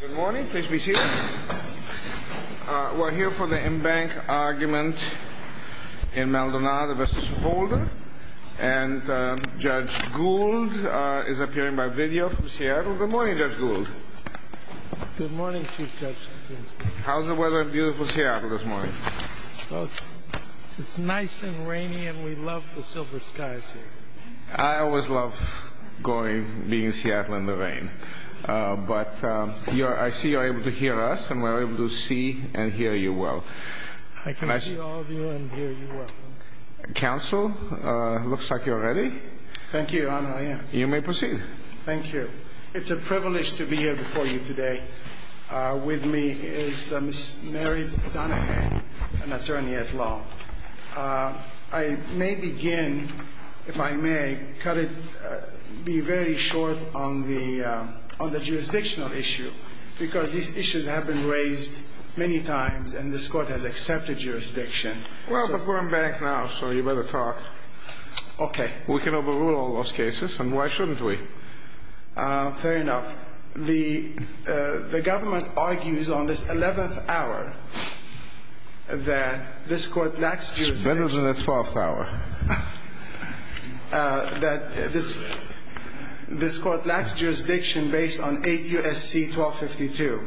Good morning, please be seated. We're here for the embankment argument in Maldonado v. Holder, and Judge Gould is appearing by video from Seattle. Good morning, Judge Gould. Good morning, Chief Judge Finstein. How's the weather in beautiful Seattle this morning? Well, it's nice and rainy, and we love the silver skies here. I always love being in Seattle in the rain, but I see you're able to hear us, and we're able to see and hear you well. I can see all of you and hear you well. Counsel, it looks like you're ready. Thank you, Your Honor, I am. You may proceed. Thank you. It's a privilege to be here before you today. With me is Ms. Mary Donahan, an attorney at law. I may begin, if I may, cut it, be very short on the jurisdictional issue, because these issues have been raised many times, and this Court has accepted jurisdiction. Well, but we're in bank now, so you better talk. Okay. We can overrule all those cases, and why shouldn't we? Fair enough. The government argues on this 11th hour that this Court lacks jurisdiction. It's better than the 12th hour. This Court lacks jurisdiction based on 8 U.S.C. 1252,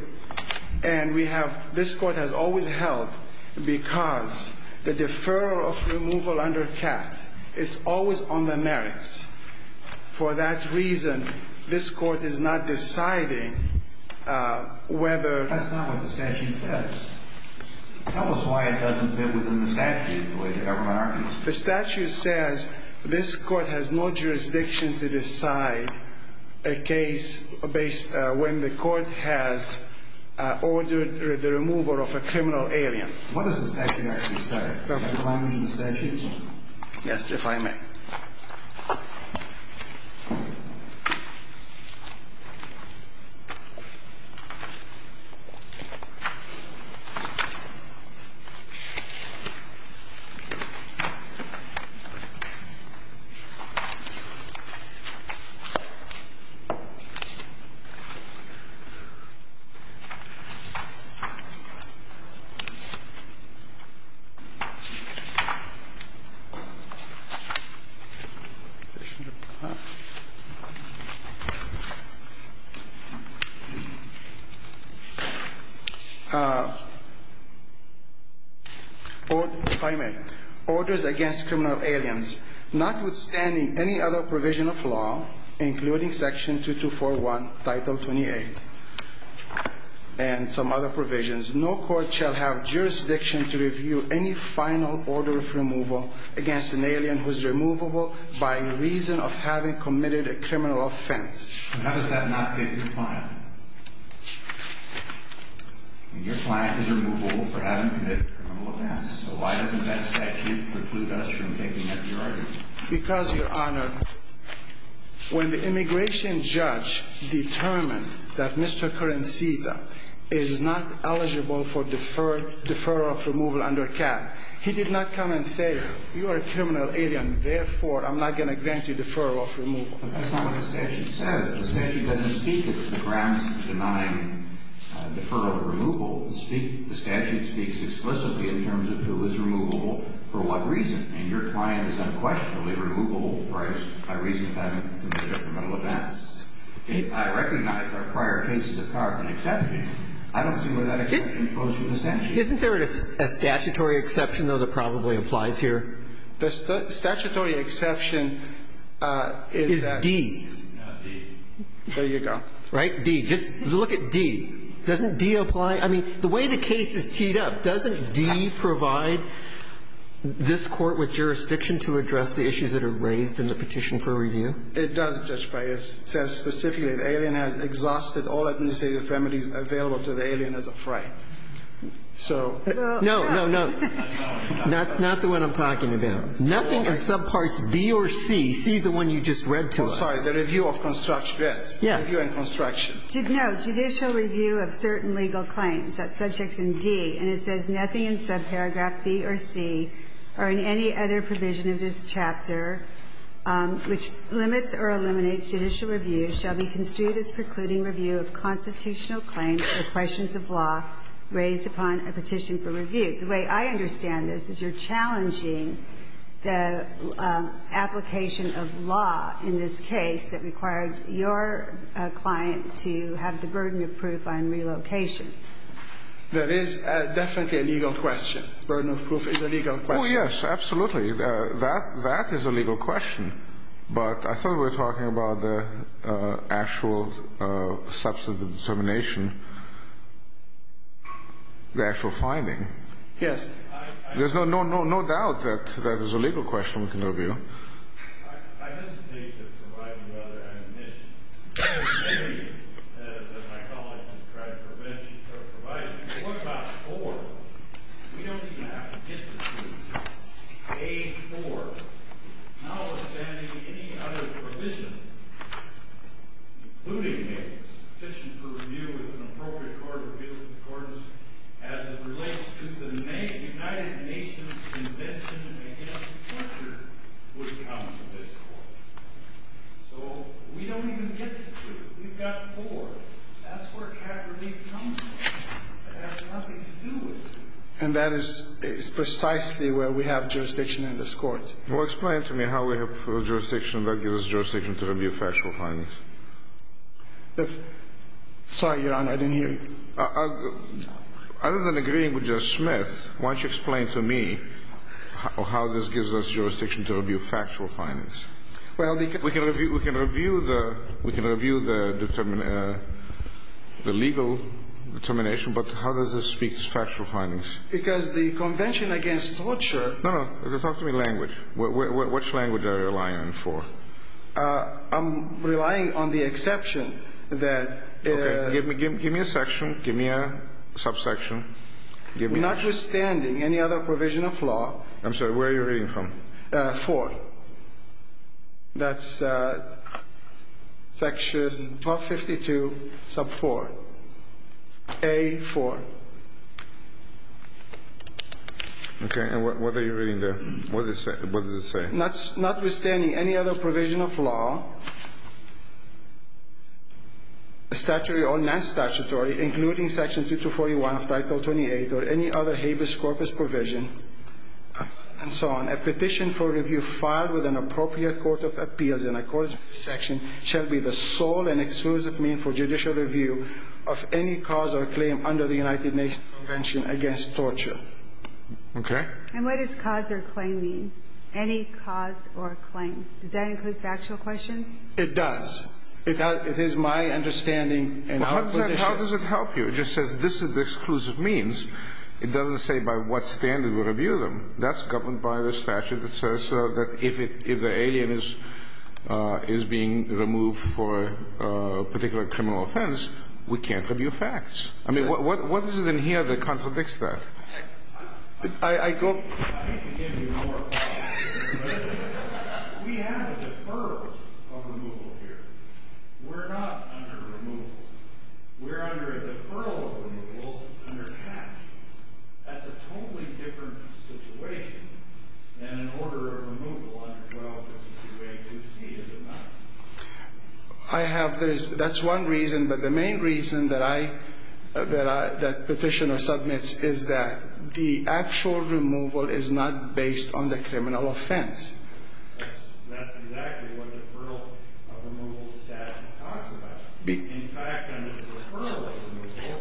and this Court has always held, because the deferral of removal under CAT is always on the merits. For that reason, this Court is not deciding whether... That's not what the statute says. Tell us why it doesn't fit within the statute, the way the government argues. The statute says this Court has no jurisdiction to decide a case when the Court has ordered the removal of a criminal alien. What does the statute actually say? Do you have the language in the statute? Yes, if I may. If I may. ...orders against criminal aliens, notwithstanding any other provision of law, including Section 2241, Title 28, and some other provisions, no Court shall have jurisdiction to review any final order of removal against an alien who is removable by reason of having committed a criminal offense. And how does that not fit your client? Your client is removable for having committed a criminal offense, so why doesn't that statute preclude us from taking up your argument? Because, Your Honor, when the immigration judge determined that Mr. Currencita is not eligible for deferral of removal under CAT, he did not come and say, you are a criminal alien, therefore I'm not going to grant you deferral of removal. But that's not what the statute says. The statute doesn't speak of the grounds for denying deferral of removal. The statute speaks explicitly in terms of who is removable, for what reason. And your client is unquestionably removable by reason of having committed a criminal offense. I recognize our prior cases of carbon exceptions. I don't see where that exception goes through the statute. Isn't there a statutory exception, though, that probably applies here? The statutory exception is that. Is D. No, D. There you go. Right? D. Just look at D. Doesn't D apply? I mean, the way the case is teed up, doesn't D provide this Court with jurisdiction to address the issues that are raised in the petition for review? It does, Judge Breyer. It says specifically the alien has exhausted all administrative remedies available to the alien as of right. So. No, no, no. That's not the one I'm talking about. Nothing in subparts B or C. C is the one you just read to us. Oh, sorry. The review of construction. Yes. Review and construction. No. Judicial review of certain legal claims. That subject's in D. And it says nothing in subparagraph B or C or in any other provision of this chapter which limits or eliminates judicial review shall be construed as precluding review of constitutional claims or questions of law raised upon a petition for review. The way I understand this is you're challenging the application of law in this case that required your client to have the burden of proof on relocation. That is definitely a legal question. Burden of proof is a legal question. Oh, yes, absolutely. That is a legal question. But I thought we were talking about the actual substantive determination, the actual finding. Yes. There's no doubt that that is a legal question we can review. I hesitate to provide the other admission. There are many that my colleagues have tried to prevent you from providing. But what about four? We don't even have to get to these. Page four. Notwithstanding any other provision, including a petition for review with an appropriate court as it relates to the United Nations Convention against Torture would come to this Court. So we don't even get to two. We've got four. That's where cap relief comes in. It has nothing to do with it. And that is precisely where we have jurisdiction in this Court. Well, explain to me how we have jurisdiction. That gives us jurisdiction to review factual findings. Sorry, Your Honor. I didn't hear you. Other than agreeing with Justice Smith, why don't you explain to me how this gives us jurisdiction to review factual findings. We can review the legal determination, but how does this speak to factual findings? Because the Convention against Torture No, no, talk to me in language. Which language are you relying on for? I'm relying on the exception that Okay. Give me a section. Give me a subsection. Notwithstanding any other provision of law I'm sorry. Where are you reading from? Four. That's section 1252 sub 4. A4. Okay. And what are you reading there? What does it say? Notwithstanding any other provision of law, statutory or non-statutory, including section 2241 of title 28 or any other habeas corpus provision, and so on, a petition for review filed with an appropriate court of appeals in a court of section shall be the sole and exclusive mean for judicial review of any cause or claim under the United Nations Convention against Torture. Okay. And what does cause or claim mean? Any cause or claim. Does that include factual questions? It does. It is my understanding and our position How does it help you? It just says this is the exclusive means. It doesn't say by what standard we review them. That's governed by the statute that says that if the alien is being removed for a particular criminal offense, we can't review facts. I mean, what is it in here that contradicts that? I can give you more. We have a deferral of removal here. We're not under removal. We're under a deferral of removal under cash. That's a totally different situation than an order of removal under 1252A2C, is it not? I have this. That's one reason. But the main reason that I, that petitioner submits is that the actual removal is not based on the criminal offense. That's exactly what the deferral of removal statute talks about. In fact, under the deferral of removal,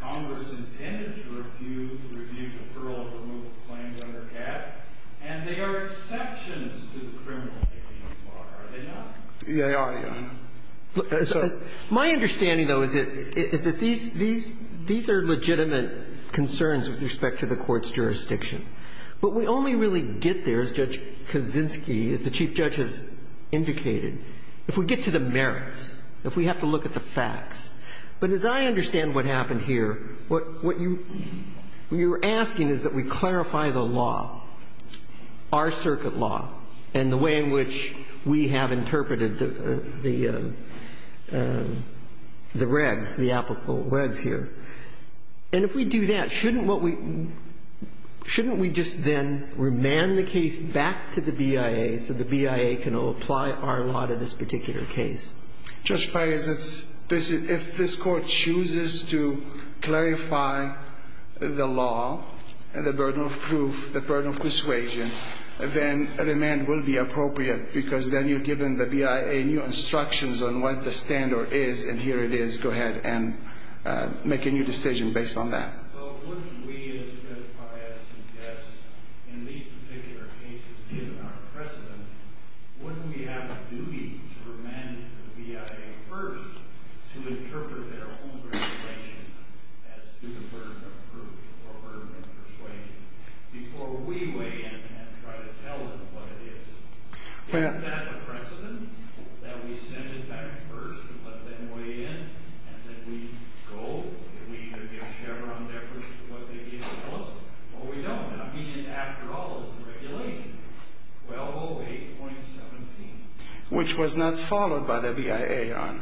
Congress intended to review deferral of removal claims under cash, and they are exceptions to the criminal case law, are they not? They are, Your Honor. My understanding, though, is that these are legitimate concerns with respect to the Court's jurisdiction. But we only really get there, as Judge Kaczynski, as the Chief Judge has indicated, if we get to the merits, if we have to look at the facts. But as I understand what happened here, what you're asking is that we clarify the law, our circuit law, and the way in which we have interpreted the regs, the applicable regs here. And if we do that, shouldn't what we – shouldn't we just then remand the case back to the BIA so the BIA can apply our law to this particular case? Judge Paius, if this Court chooses to clarify the law and the burden of proof, the burden of persuasion, then a remand will be appropriate, because then you've given the BIA new instructions on what the standard is, and here it is. Go ahead and make a new decision based on that. Well, wouldn't we, as Judge Paius suggests, in these particular cases, given our precedent, wouldn't we have a duty to remand the BIA first to interpret their own regulation as to the burden of proof or burden of persuasion before we weigh in and try to tell them what it is? Isn't that the precedent, that we send it back first, but then weigh in, and then we go? And we either give Chevron their version of what they need to tell us, or we don't. I mean, after all, it's the regulation. Well, 08.17. Which was not followed by the BIA, Your Honor.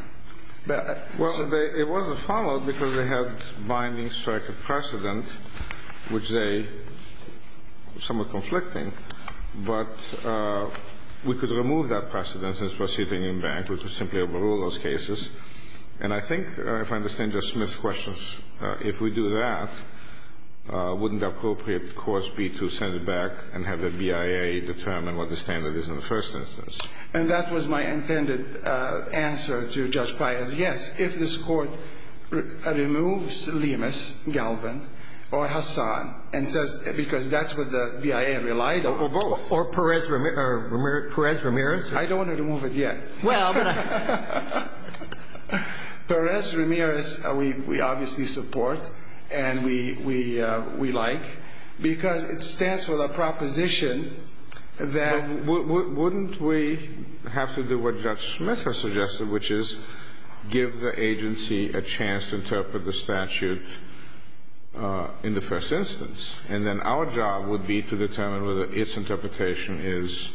Well, it wasn't followed because they had binding strike of precedent, which they were somewhat conflicting. But we could remove that precedent since we're sitting in bank. We could simply overrule those cases. And I think, if I understand Justice Smith's questions, if we do that, wouldn't the appropriate course be to send it back and have the BIA determine what the standard is in the first instance? And that was my intended answer to Judge Paius. Yes. If this Court removes Lemus, Galvin, or Hassan, and says, because that's what the BIA relied on. Or both. Or Perez-Ramirez? I don't want to remove it yet. Well, but I... Perez-Ramirez we obviously support. And we like. Because it stands for the proposition that... Wouldn't we have to do what Judge Smith has suggested, which is give the agency a chance to interpret the statute in the first instance? And then our job would be to determine whether its interpretation is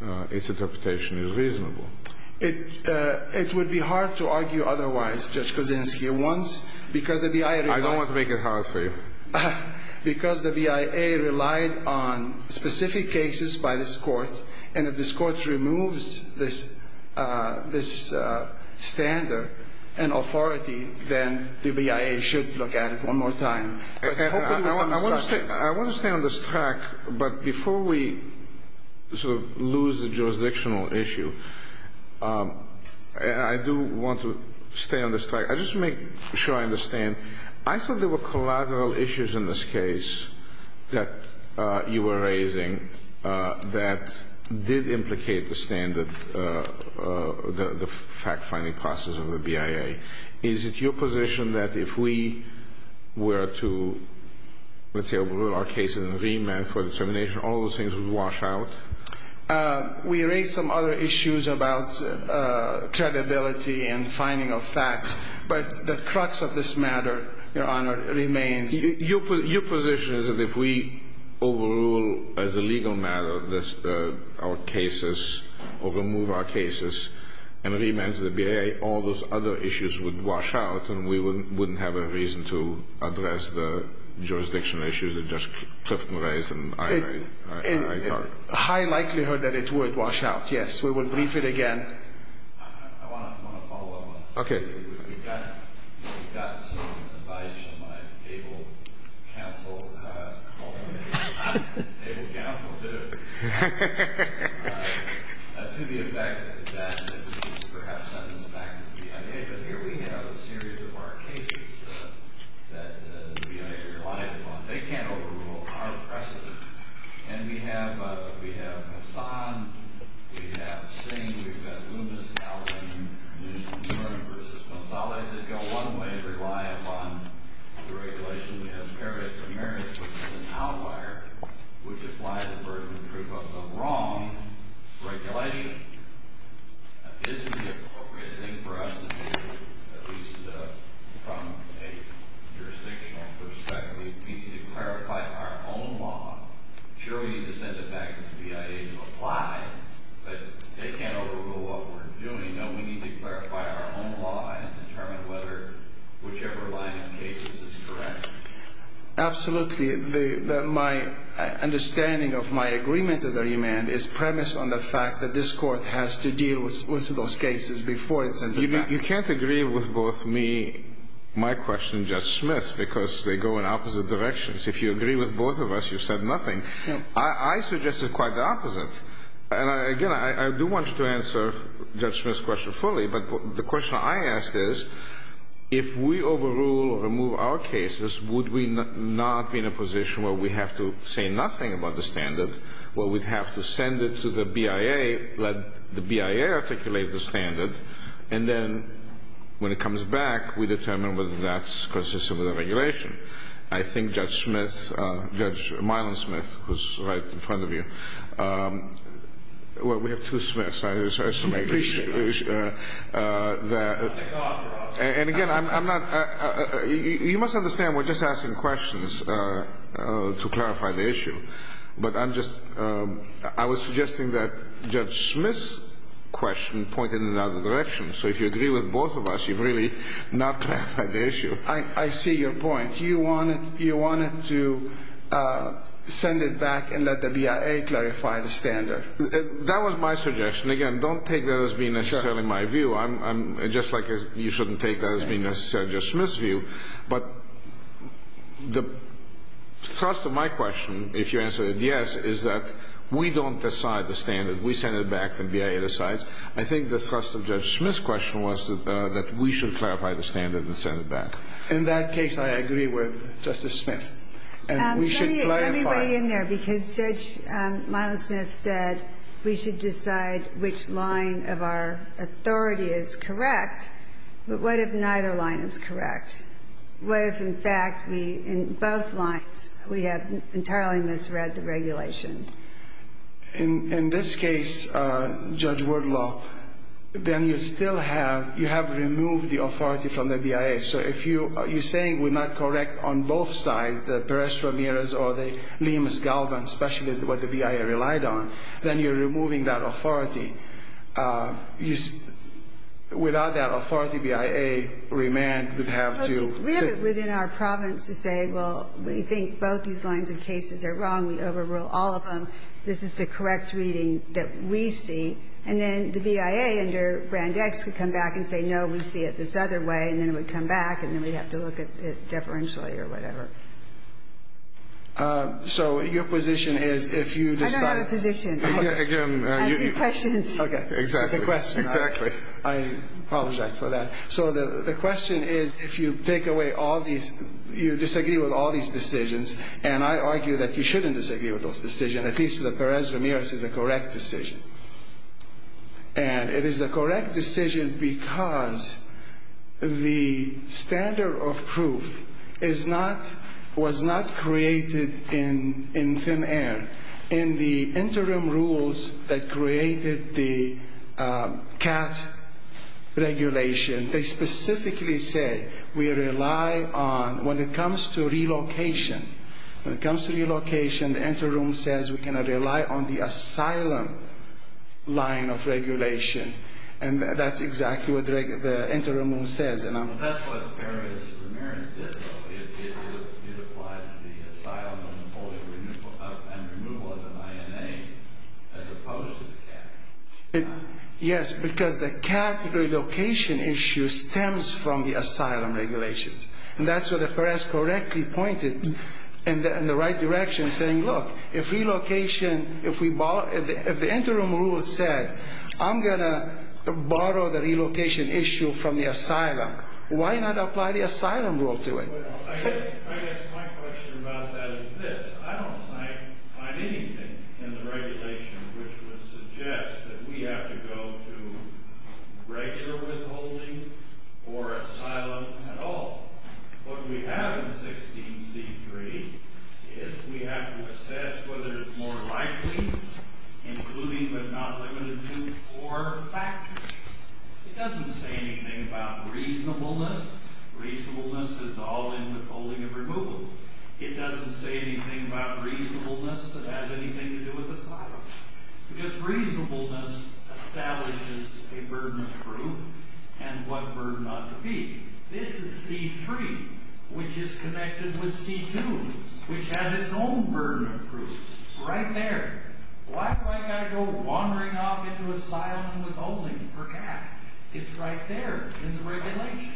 reasonable. It would be hard to argue otherwise, Judge Kuczynski. I don't want to make it hard for you. Because the BIA relied on specific cases by this Court, and if this Court removes this standard and authority, then the BIA should look at it one more time. I want to stay on this track. But before we sort of lose the jurisdictional issue, I do want to stay on this track. I just want to make sure I understand. I thought there were collateral issues in this case that you were raising that did implicate the fact-finding process of the BIA. Is it your position that if we were to, let's say, rule our cases in remand for determination, all those things would wash out? We raised some other issues about credibility and finding of facts. But the crux of this matter, Your Honor, remains. Your position is that if we overrule as a legal matter our cases or remove our cases and remand to the BIA, all those other issues would wash out and we wouldn't have a reason to address the jurisdictional issues that Judge Clifton raised and I raised? In high likelihood that it would wash out, yes. We would brief it again. I want to follow up on this. Okay. We've gotten some advice from my able counsel to the effect that this is perhaps sentencing back to the BIA. But here we have a series of our cases that the BIA relied upon. They can't overrule our precedent. And we have Hassan. We have Singh. We've got Loomis, Allergan, Norton v. Gonzales that go one way and rely upon the regulation. We have Perry v. Marriott, which is an outlier, which applies the burden of proof of wrong regulation. Isn't the appropriate thing for us to do, at least from a jurisdictional perspective, we need to clarify our own law. Sure, we need to send it back to the BIA to apply, but they can't overrule what we're doing. No, we need to clarify our own law and determine whether whichever line of cases is correct. Absolutely. My understanding of my agreement to the remand is premised on the fact that this Court has to deal with those cases before it sends them back. You can't agree with both me, my question, and Judge Smith's because they go in opposite directions. If you agree with both of us, you've said nothing. I suggest it's quite the opposite. And, again, I do want you to answer Judge Smith's question fully, but the question I asked is, if we overrule or remove our cases, would we not be in a position where we have to say nothing about the standard, where we'd have to send it to the BIA, let the BIA articulate the standard, and then when it comes back, we determine whether that's consistent with the regulation. I think Judge Smith, Judge Mylon Smith, who's right in front of you, well, we have two Smiths. And, again, I'm not – you must understand we're just asking questions to clarify the issue. But I'm just – I was suggesting that Judge Smith's question pointed in another direction. So if you agree with both of us, you've really not clarified the issue. I see your point. You wanted to send it back and let the BIA clarify the standard. That was my suggestion. Again, don't take that as being necessarily my view. I'm – just like you shouldn't take that as being necessarily Judge Smith's view. But the thrust of my question, if you answered yes, is that we don't decide the standard. We send it back. The BIA decides. I think the thrust of Judge Smith's question was that we should clarify the standard and send it back. In that case, I agree with Justice Smith. And we should clarify – In this case, Judge Werdlop, then you still have – you have removed the authority from the BIA. So if you – you're saying we're not correct on both sides, the Perez-Ramirez or the Lemus-Galvan, especially what the BIA relied on, then you're removing authority. Without that authority, BIA remand would have to – We have it within our province to say, well, we think both these lines of cases are wrong. We overrule all of them. This is the correct reading that we see. And then the BIA under Brand X could come back and say, no, we see it this other way, and then it would come back, and then we'd have to look at it deferentially or whatever. So your position is if you decide – I don't have a position. Again, you – Ask your questions. Okay. Exactly. The question – Exactly. I apologize for that. So the question is if you take away all these – you disagree with all these decisions, and I argue that you shouldn't disagree with those decisions, at least the Perez-Ramirez is the correct decision. And it is the correct decision because the standard of proof is not – was not created in FEMAIR. In the interim rules that created the CAT regulation, they specifically said we rely on – when it comes to relocation, when it comes to relocation, the interim says we cannot rely on the asylum line of regulation. And that's exactly what the interim rule says. Well, that's what Perez-Ramirez did, though. It applied to the asylum and removal of an INA as opposed to the CAT. Yes, because the CAT relocation issue stems from the asylum regulations. And that's what the Perez correctly pointed in the right direction, saying, look, if relocation – if we – if the interim rule said I'm going to borrow the relocation issue from the asylum, why not apply the asylum rule to it? I guess my question about that is this. I don't find anything in the regulation which would suggest that we have to go to regular withholding or asylum at all. What we have in 16C3 is we have to assess whether it's more likely, including but not limited to, four factors. It doesn't say anything about reasonableness. Reasonableness is all in withholding and removal. It doesn't say anything about reasonableness that has anything to do with asylum. Because reasonableness establishes a burden of proof and what burden ought to be. This is C3, which is connected with C2, which has its own burden of proof right there. Why do I got to go wandering off into asylum and withholding for cash? It's right there in the regulation.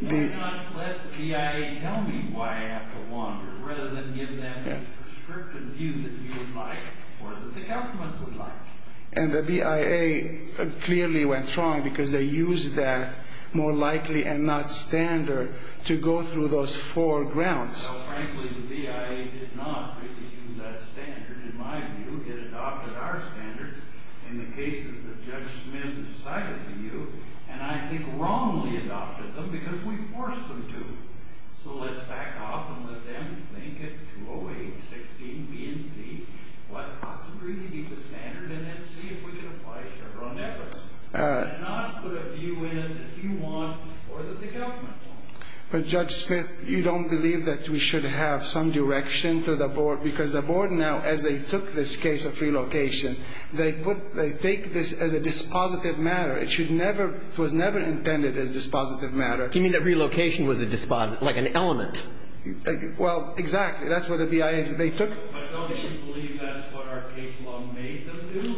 Why not let the BIA tell me why I have to wander rather than give them the prescriptive view that you would like or that the government would like? And the BIA clearly went wrong because they used that more likely and not standard to go through those four grounds. Well, frankly, the BIA did not use that standard, in my view. It adopted our standards in the cases that Judge Smith decided to use. And I think wrongly adopted them because we forced them to. So let's back off and let them think at 208-16B and C what ought to really be the standard and then see if we can apply Chevron efforts and not put a view in that you want or that the government wants. But, Judge Smith, you don't believe that we should have some direction to the board because the board now, as they took this case of relocation, they take this as a dispositive matter. It was never intended as a dispositive matter. Do you mean that relocation was like an element? Well, exactly. That's what the BIA took. But don't you believe that's what our case law made them do?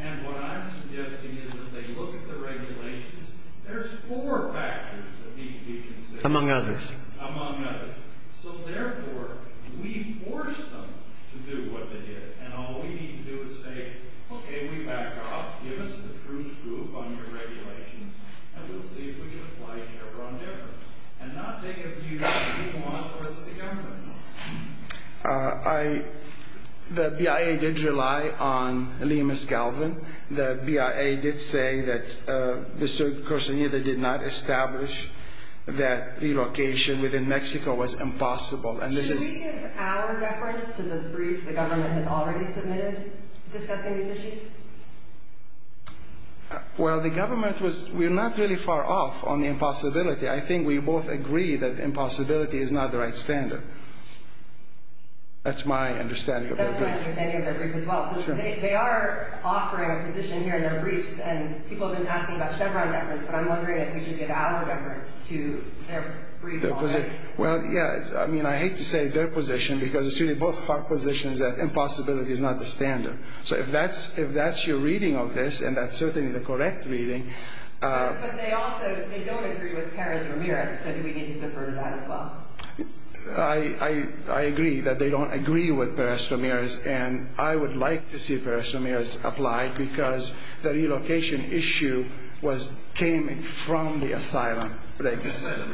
And what I'm suggesting is that they look at the regulations. There's four factors that need to be considered. Among others. Among others. So, therefore, we forced them to do what they did. And all we need to do is say, okay, we back off. Give us a truce group on your regulations and we'll see if we can apply Chevron efforts and not take a view that we want or that the government wants. The BIA did rely on Liam S. Galvin. The BIA did say that Mr. Corsonita did not establish that relocation within Mexico was impossible. Should we give our reference to the brief the government has already submitted discussing these issues? Well, the government was not really far off on the impossibility. I think we both agree that impossibility is not the right standard. That's my understanding of their brief. That's my understanding of their brief as well. So they are offering a position here in their briefs, and people have been asking about Chevron efforts, but I'm wondering if we should give our reference to their brief already. Well, yeah. I mean, I hate to say their position because it's really both our positions that impossibility is not the standard. So if that's your reading of this, and that's certainly the correct reading. But they also, they don't agree with Perez Ramirez, so do we need to defer to that as well? I agree that they don't agree with Perez Ramirez. And I would like to see Perez Ramirez applied because the relocation issue came from the asylum. Thank you. As I said,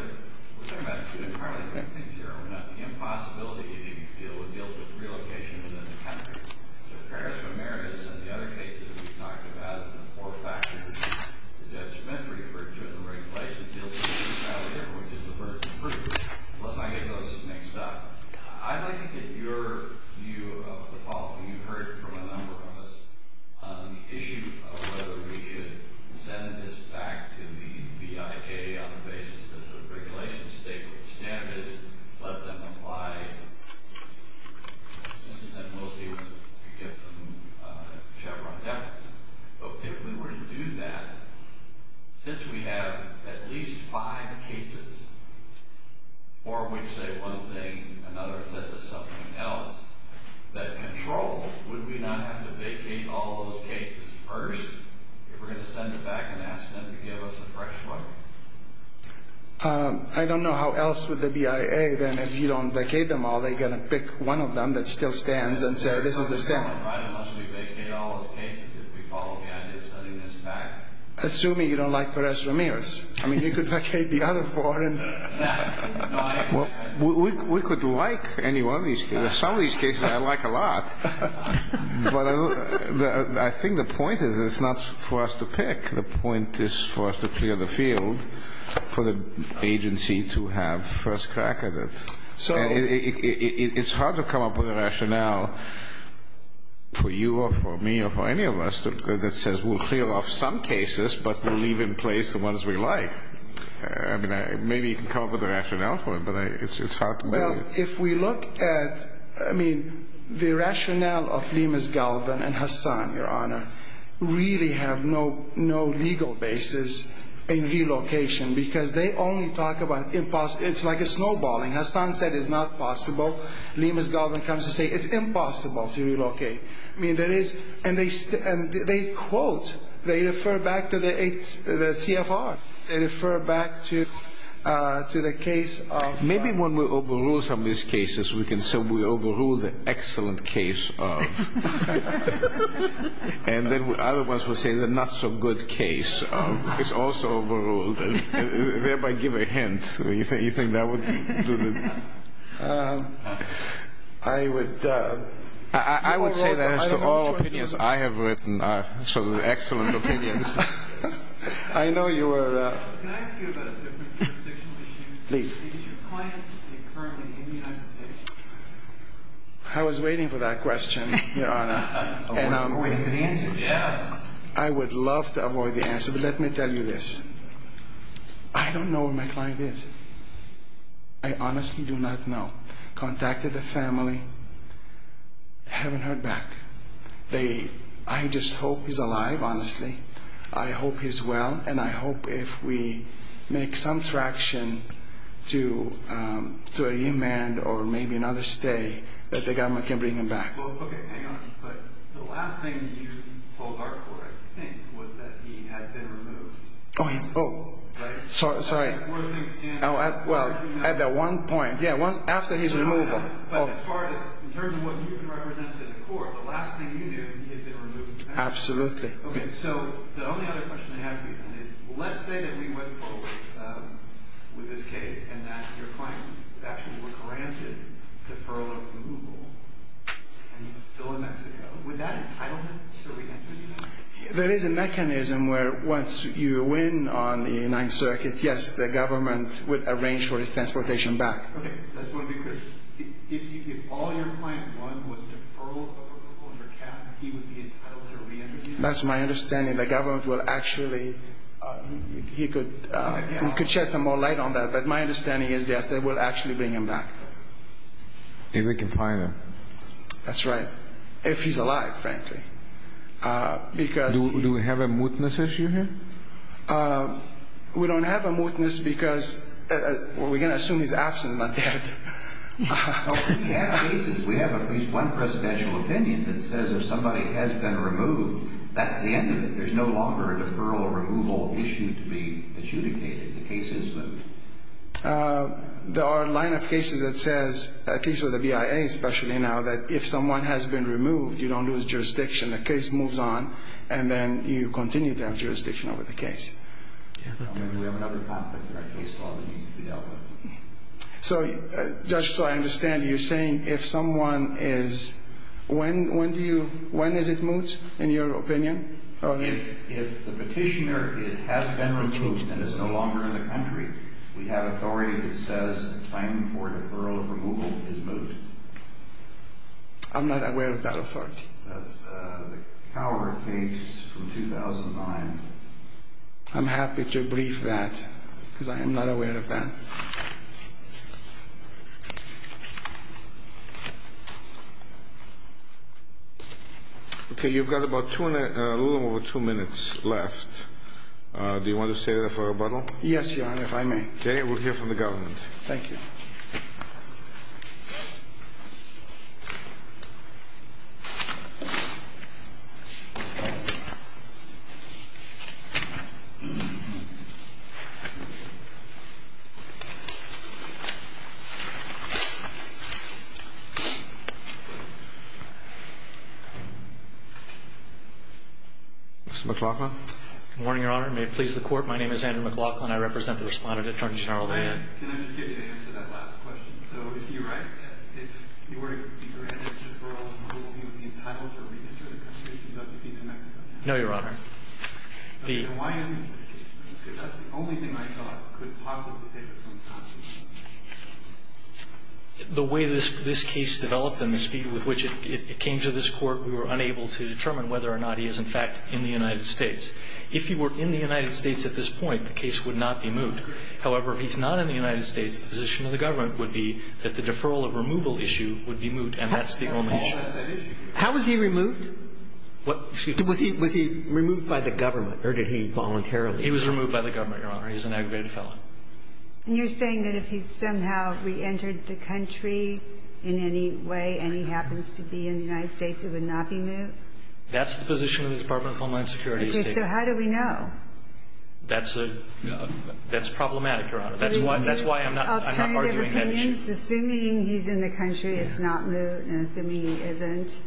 we're talking about two entirely different things here. We're not in the impossibility issue to deal with deals with relocation within the country. So Perez Ramirez and the other cases we've talked about in the four factors, as Ed Schmitz referred to in the right place, it deals with the reality of everyone is the burden of proof. Let's not get those mixed up. I'd like to get your view of the problem. You've heard from a number of us on the issue of whether we should send this back to the BIK on the basis that the regulations state what the standard is, let them apply. Since then, we'll see if we can get them to defer. But if we were to do that, since we have at least five cases for which, say, one thing, another says something else, that control, would we not have to vacate all those cases first if we're going to send it back and ask them to give us a fresh one? I don't know. How else would the BIA then, if you don't vacate them all, they're going to pick one of them that still stands and say, this is a standard. Right, unless we vacate all those cases, if we follow the idea of sending this back. Assuming you don't like Perez Ramirez. I mean, you could vacate the other four. We could like any one of these cases. Some of these cases I like a lot. But I think the point is it's not for us to pick. The point is for us to clear the field for the agency to have first crack at it. And it's hard to come up with a rationale for you or for me or for any of us that says we'll clear off some cases, but we'll leave in place the ones we like. I mean, maybe you can come up with a rationale for it, but it's hard to make it. Well, if we look at, I mean, the rationale of Lemus Galvin and Hassan, Your Honor, really have no legal basis in relocation because they only talk about impossible. It's like a snowballing. Hassan said it's not possible. Lemus Galvin comes to say it's impossible to relocate. I mean, there is. And they quote, they refer back to the CFR. They refer back to the case of. Maybe when we overrule some of these cases we can say we overrule the excellent case of. And then other ones will say the not so good case of. It's also overruled and thereby give a hint. You think that would do the. I would. I would say that as to all opinions I have written are excellent opinions. I know you were. Can I ask you about a different jurisdictional issue? Please. Is your client currently in the United States? I was waiting for that question, Your Honor. Avoid the answer. Yes. I would love to avoid the answer, but let me tell you this. I don't know where my client is. I honestly do not know. Contacted the family. Haven't heard back. I just hope he's alive, honestly. I hope he's well. And I hope if we make some traction to a remand or maybe another stay that the government can bring him back. Well, okay. Hang on. But the last thing that you told our court, I think, was that he had been removed. Oh. Right. Sorry. As far as things stand. Well, at that one point. Yeah. After his removal. But as far as, in terms of what you can represent to the court, the last thing you did, he had been removed. Absolutely. Okay. So the only other question I have for you, then, is let's say that we went forward with this case and that your client actually were granted the furlough removal and he's still in Mexico. Would that entitle him to reenter the United States? There is a mechanism where once you win on the United Circuit, yes, the government would arrange for his transportation back. Okay. That's what we could. If all your client won was deferral of a foreclosure cap, he would be entitled to reenter the United States. That's my understanding. The government will actually, he could shed some more light on that. But my understanding is, yes, they will actually bring him back. If they can find him. That's right. If he's alive, frankly. Do we have a mootness issue here? We don't have a mootness because we're going to assume he's absent, not dead. We have cases. We have at least one presidential opinion that says if somebody has been removed, that's the end of it. There's no longer a deferral or removal issue to be adjudicated. The case is moot. There are a line of cases that says, at least with the BIA especially now, that if someone has been removed, you don't lose jurisdiction. The case moves on and then you continue to have jurisdiction over the case. We have another conflict in our case law that needs to be dealt with. So, Judge, so I understand you're saying if someone is, when do you, when is it moot in your opinion? If the petitioner has been removed and is no longer in the country, we have authority that says a claim for deferral or removal is moot. I'm not aware of that authority. That's the Cower case from 2009. I'm happy to brief that because I am not aware of that. Okay, you've got a little over two minutes left. Do you want to stay there for rebuttal? Yes, Your Honor, if I may. Okay, we'll hear from the government. Thank you. Thank you. Mr. McLaughlin? Good morning, Your Honor. May it please the Court, my name is Andrew McLaughlin. I represent the respondent, Attorney General Levin. Can I just get you to answer that last question? So is he right that if he were to be granted deferral and removal, he would be entitled to re-enter the country? He's of the peace of Mexico. No, Your Honor. Then why isn't he? Because that's the only thing I thought could possibly save him from the prosecution. The way this case developed and the speed with which it came to this Court, we were unable to determine whether or not he is, in fact, in the United States. However, if he's not in the United States, the position of the government would be that the deferral of removal issue would be moot, and that's the only issue. How was he removed? What? Was he removed by the government, or did he voluntarily? He was removed by the government, Your Honor. He was an aggravated felon. And you're saying that if he somehow re-entered the country in any way and he happens to be in the United States, he would not be moot? That's the position of the Department of Homeland Security. So how do we know? That's problematic, Your Honor. That's why I'm not arguing that issue. Assuming he's in the country, it's not moot, and assuming he isn't,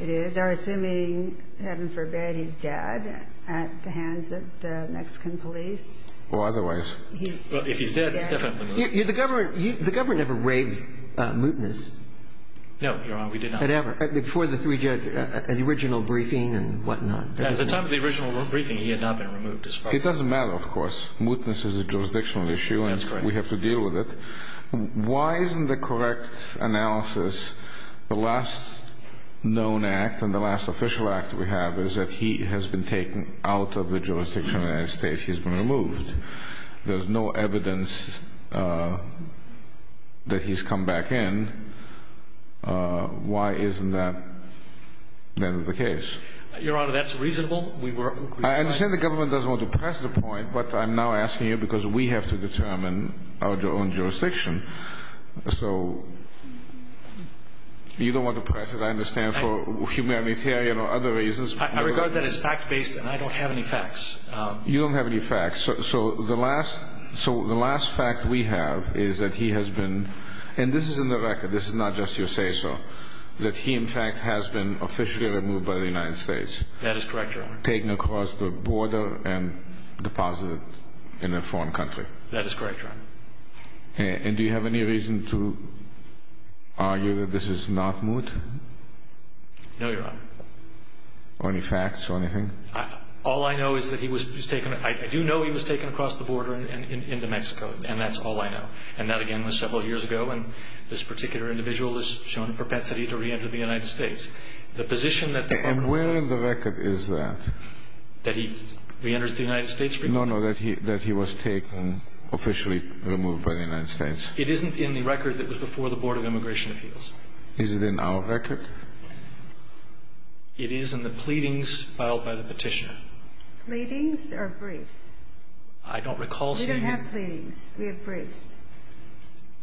it is. Or assuming, heaven forbid, he's dead at the hands of the Mexican police. Or otherwise. If he's dead, he's definitely moot. The government never raised mootness. No, Your Honor. We did not. Before the three judges, at the original briefing and whatnot. At the time of the original briefing, he had not been removed as felon. It doesn't matter, of course. Mootness is a jurisdictional issue. That's correct. We have to deal with it. Why isn't the correct analysis, the last known act and the last official act we have, is that he has been taken out of the jurisdiction of the United States? He's been removed. There's no evidence that he's come back in. Why isn't that the end of the case? Your Honor, that's reasonable. I understand the government doesn't want to press the point, but I'm now asking you because we have to determine our own jurisdiction. So you don't want to press it, I understand, for humanitarian or other reasons. I regard that as fact-based, and I don't have any facts. You don't have any facts. So the last fact we have is that he has been, and this is in the record, this is not just your say-so, that he, in fact, has been officially removed by the United States. That is correct, Your Honor. Taken across the border and deposited in a foreign country. That is correct, Your Honor. And do you have any reason to argue that this is not moot? No, Your Honor. Any facts or anything? All I know is that he was taken. I do know he was taken across the border into Mexico, and that's all I know. And that, again, was several years ago, and this particular individual has shown a propensity to reenter the United States. The position that the government has... And where in the record is that? That he reenters the United States? No, no, that he was taken, officially removed by the United States. It isn't in the record that was before the Board of Immigration Appeals. Is it in our record? It is in the pleadings filed by the Petitioner. Pleadings or briefs? I don't recall seeing... We don't have pleadings. We have briefs.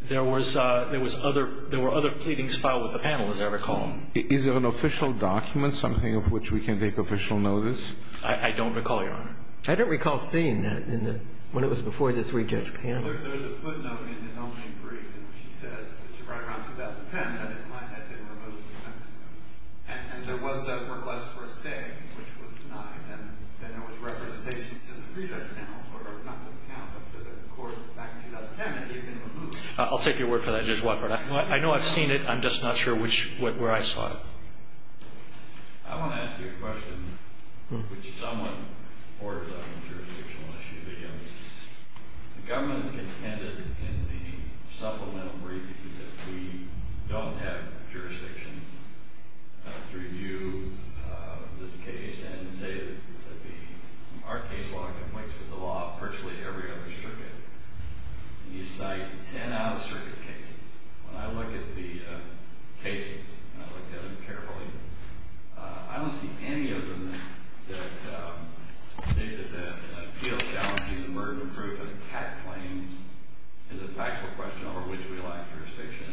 There were other pleadings filed with the panel, as I recall. Is there an official document, something of which we can take official notice? I don't recall, Your Honor. I don't recall seeing that when it was before the three-judge panel. There's a footnote in his own brief that she says, right around 2010, that his client had been removed from Mexico. And there was a request for a stay, which was denied, and then there was representation to the three-judge panel, or not to the panel, but to the court back in 2010, that he had been removed. I'll take your word for that, Judge Watford. I know I've seen it. I'm just not sure where I saw it. I want to ask you a question, which someone orders on a jurisdictional issue to you. The government contended in the supplemental briefing that we don't have jurisdiction to review this case and say that our case law conflicts with the law of virtually every other circuit. And you cite ten out-of-circuit cases. When I look at the cases, and I look at them carefully, I don't see any of them that state that the appeal challenge, the murder proof, or the cat claims is a factual question over which we lack jurisdiction.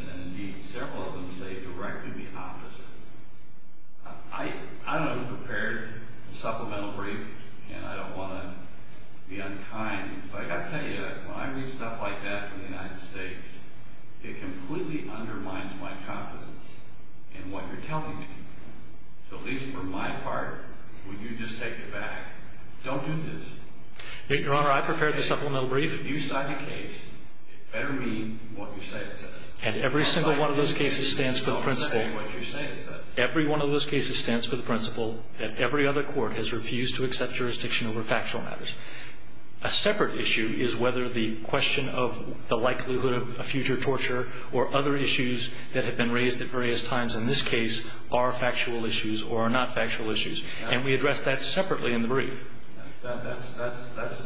I don't know who prepared the supplemental brief, and I don't want to be unkind, but I've got to tell you, when I read stuff like that from the United States, it completely undermines my confidence in what you're telling me. So at least for my part, would you just take it back? Don't do this. Your Honor, I prepared the supplemental brief. If you cite a case, it better mean what you say it says. And every single one of those cases stands for the principle that every other court has refused to accept jurisdiction over factual matters. A separate issue is whether the question of the likelihood of a future torture or other issues that have been raised at various times in this case are factual issues or are not factual issues. And we address that separately in the brief. That's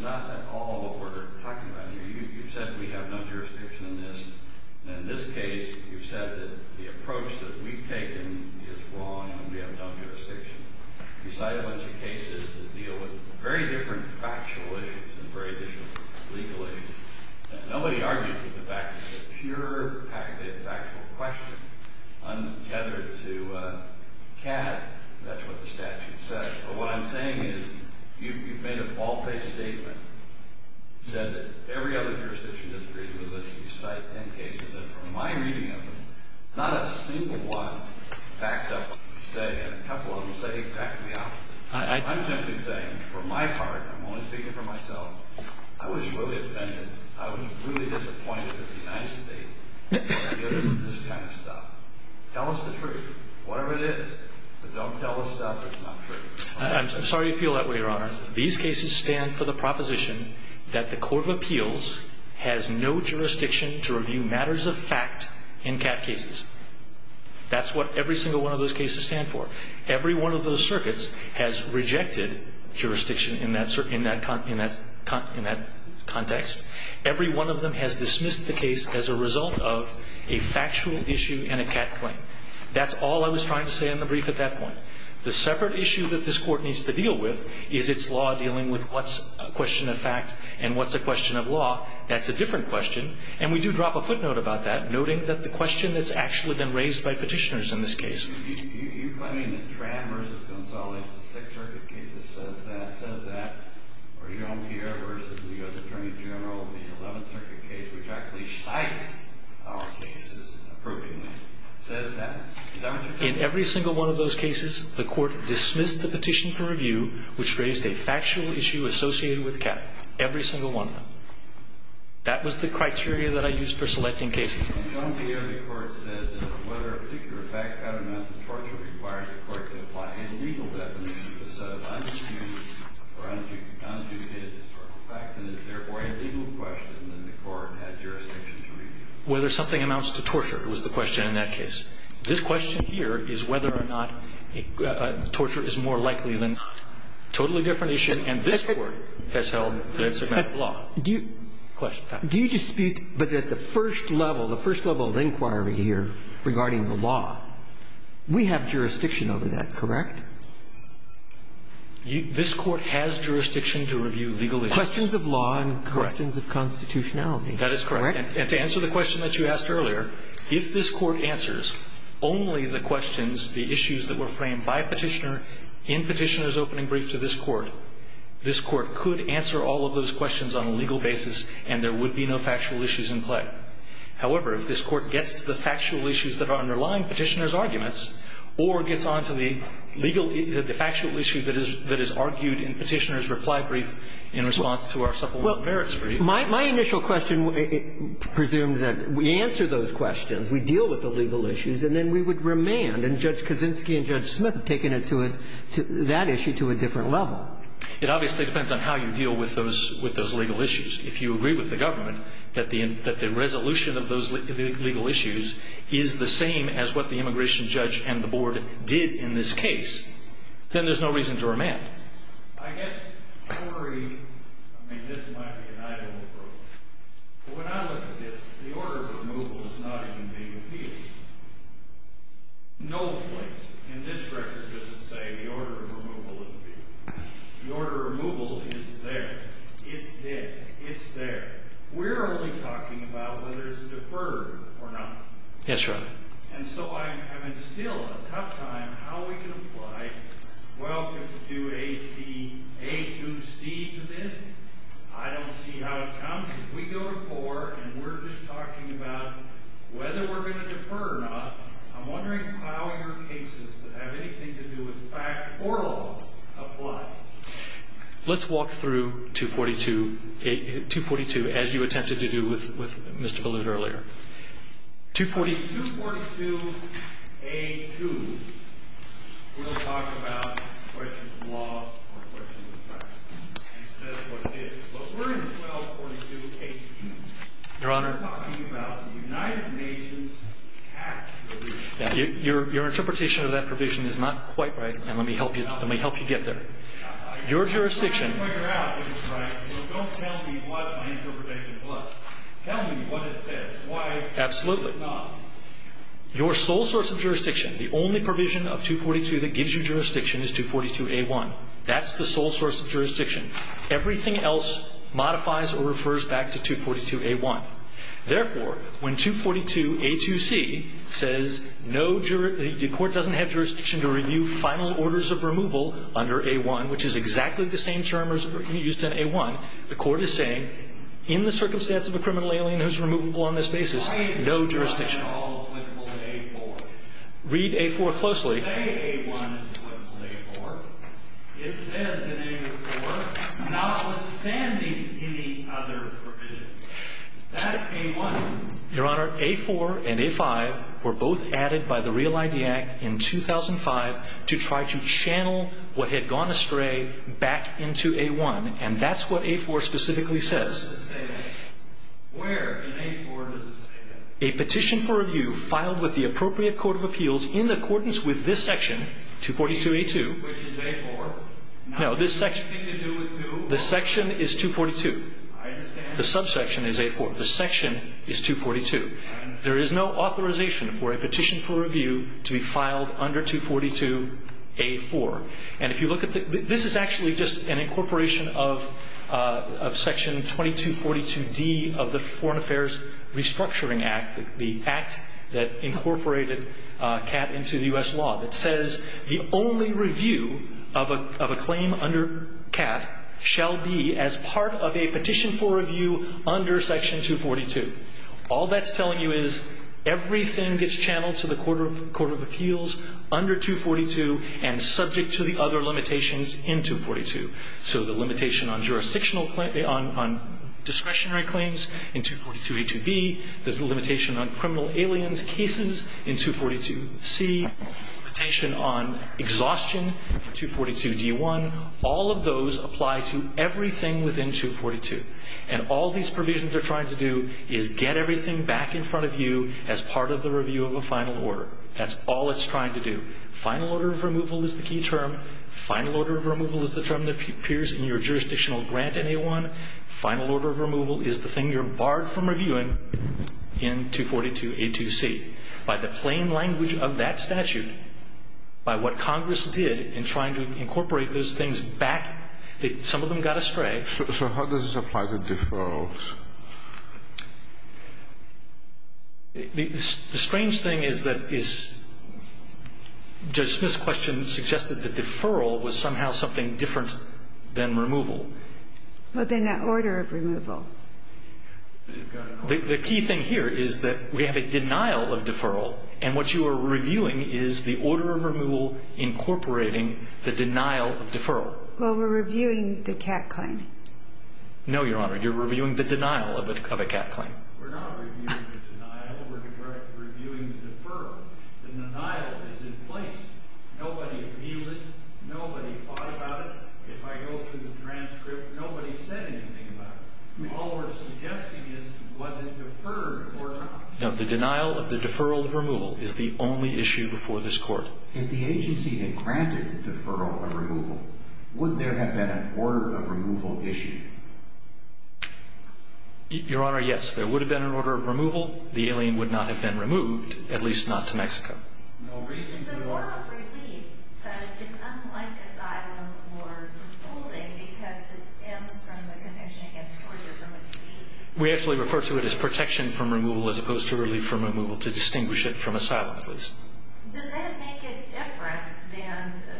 not at all what we're talking about here. You've said we have no jurisdiction in this. In this case, you've said that the approach that we've taken is wrong and we have no jurisdiction. You cite a bunch of cases that deal with very different factual issues and very different legal issues. Nobody argued with the fact that it's a pure factual question. Untethered to CAD, that's what the statute said. But what I'm saying is you've made an all-face statement, said that every other jurisdiction disagrees with this, and you cite ten cases. And from my reading of them, not a single one backs up what you say, and a couple of them say, back me up. I'm simply saying, from my part, I'm only speaking for myself, I was really offended, I was really disappointed with the United States when they give us this kind of stuff. Tell us the truth, whatever it is. Don't tell us stuff that's not true. I'm sorry you feel that way, Your Honor. These cases stand for the proposition that the Court of Appeals has no jurisdiction to review matters of fact in CAD cases. That's what every single one of those cases stand for. Every one of those circuits has rejected jurisdiction in that context. Every one of them has dismissed the case as a result of a factual issue and a CAD claim. That's all I was trying to say in the brief at that point. The separate issue that this Court needs to deal with is its law dealing with what's a question of fact and what's a question of law. That's a different question, and we do drop a footnote about that, noting that the question that's actually been raised by petitioners in this case. You're claiming that Tran v. Gonzales, the Sixth Circuit case that says that, or Jean Pierre v. the U.S. Attorney General, the Eleventh Circuit case, which actually cites our cases approvingly, in every single one of those cases, the Court dismissed the petition for review which raised a factual issue associated with CAD. Every single one of them. That was the criteria that I used for selecting cases. And Jean Pierre, the Court said that whether a particular fact pattern amounts to torture required the Court to apply any legal definition instead of undue or undutated historical facts and is therefore a legal question, then the Court had jurisdiction to review it. Whether something amounts to torture was the question in that case. This question here is whether or not torture is more likely than not. Totally different issue, and this Court has held that it's a matter of law. Do you dispute that at the first level, the first level of inquiry here regarding the law, we have jurisdiction over that, correct? This Court has jurisdiction to review legal issues. Questions of law and questions of constitutionality. That is correct. And to answer the question that you asked earlier, if this Court answers only the questions, the issues that were framed by a petitioner in Petitioner's opening brief to this Court, this Court could answer all of those questions on a legal basis, and there would be no factual issues in play. However, if this Court gets to the factual issues that are underlying Petitioner's arguments or gets on to the legal issues, the factual issues that is argued in Petitioner's reply brief in response to our supplemental merits brief. Well, my initial question presumes that we answer those questions, we deal with the legal issues, and then we would remand. And Judge Kaczynski and Judge Smith have taken it to a – that issue to a different level. It obviously depends on how you deal with those legal issues. If you agree with the government that the resolution of those legal issues is the same as what the immigration judge and the board did in this case, then there's no reason to remand. I guess I worry – I mean, this might be an ideal approach. But when I look at this, the order of removal is not even being appealed. No place in this record does it say the order of removal is being – the order of removal is there. It's there. It's there. We're only talking about whether it's deferred or not. Yes, Your Honor. And so I'm in still a tough time how we can apply 1252 AC – A2C to this. I don't see how it counts. If we go to 4 and we're just talking about whether we're going to defer or not, I'm wondering how your cases that have anything to do with fact or law apply. Let's walk through 242 – 242 as you attempted to do with Mr. Ballewt earlier. 242 – 242 A2, we'll talk about questions of law or questions of fact. Your Honor, your interpretation of that provision is not quite right. And let me help you. Let me help you get there. Your jurisdiction – Absolutely. Your sole source of jurisdiction, the only provision of 242 that gives you jurisdiction is 242 A1. That's the sole source of jurisdiction. Everything else modifies or refers back to 242 A1. Therefore, when 242 A2C says no – the court doesn't have jurisdiction to review final orders of removal under A1, which is exactly the same term used in A1, the court is saying in the circumstance of a criminal alien who's removable on this basis, no jurisdiction. Why is A1 not at all applicable to A4? Read A4 closely. When you say A1 is applicable to A4, it says in A4, notwithstanding any other provision, that's A1. Your Honor, A4 and A5 were both added by the Real ID Act in 2005 to try to channel what had gone astray back into A1, and that's what A4 specifically says. Where in A4 does it say that? A petition for review filed with the appropriate court of appeals in accordance with this section, 242 A2 – Which is A4. No, this section – Nothing to do with 242. The section is 242. I understand. The subsection is A4. The section is 242. There is no authorization for a petition for review to be filed under 242 A4. And if you look at the – this is actually just an incorporation of Section 2242D of the Foreign Affairs Restructuring Act, the act that incorporated CAT into the U.S. law that says the only review of a claim under CAT shall be as part of a petition for review under Section 242. All that's telling you is everything gets channeled to the court of appeals under 242 and subject to the other limitations in 242. So the limitation on jurisdictional – on discretionary claims in 242 A2B, there's a limitation on criminal aliens cases in 242 C, limitation on exhaustion in 242 D1. All of those apply to everything within 242. And all these provisions are trying to do is get everything back in front of you as part of the review of a final order. That's all it's trying to do. Final order of removal is the key term. Final order of removal is the term that appears in your jurisdictional grant in A1. Final order of removal is the thing you're barred from reviewing in 242 A2C. By the plain language of that statute, by what Congress did in trying to incorporate those things back, some of them got astray. So how does this apply to deferrals? The strange thing is that is Judge Smith's question suggested that deferral was somehow something different than removal. Well, then that order of removal. The key thing here is that we have a denial of deferral, and what you are reviewing is the order of removal incorporating the denial of deferral. Well, we're reviewing the CAC claim. No, Your Honor. You're reviewing the denial of a CAC claim. We're not reviewing the denial. We're reviewing the deferral. The denial is in place. Nobody appealed it. Nobody fought about it. If I go through the transcript, nobody said anything about it. All we're suggesting is was it deferred or not. No, the denial of the deferral removal is the only issue before this Court. If the agency had granted deferral of removal, would there have been an order of removal issued? Your Honor, yes. There would have been an order of removal. The alien would not have been removed, at least not to Mexico. It's a form of relief, but it's unlike asylum or holding because it stems from the connection against torture from a tree. We actually refer to it as protection from removal as opposed to relief from removal to distinguish it from asylum, at least. Does that make it different than the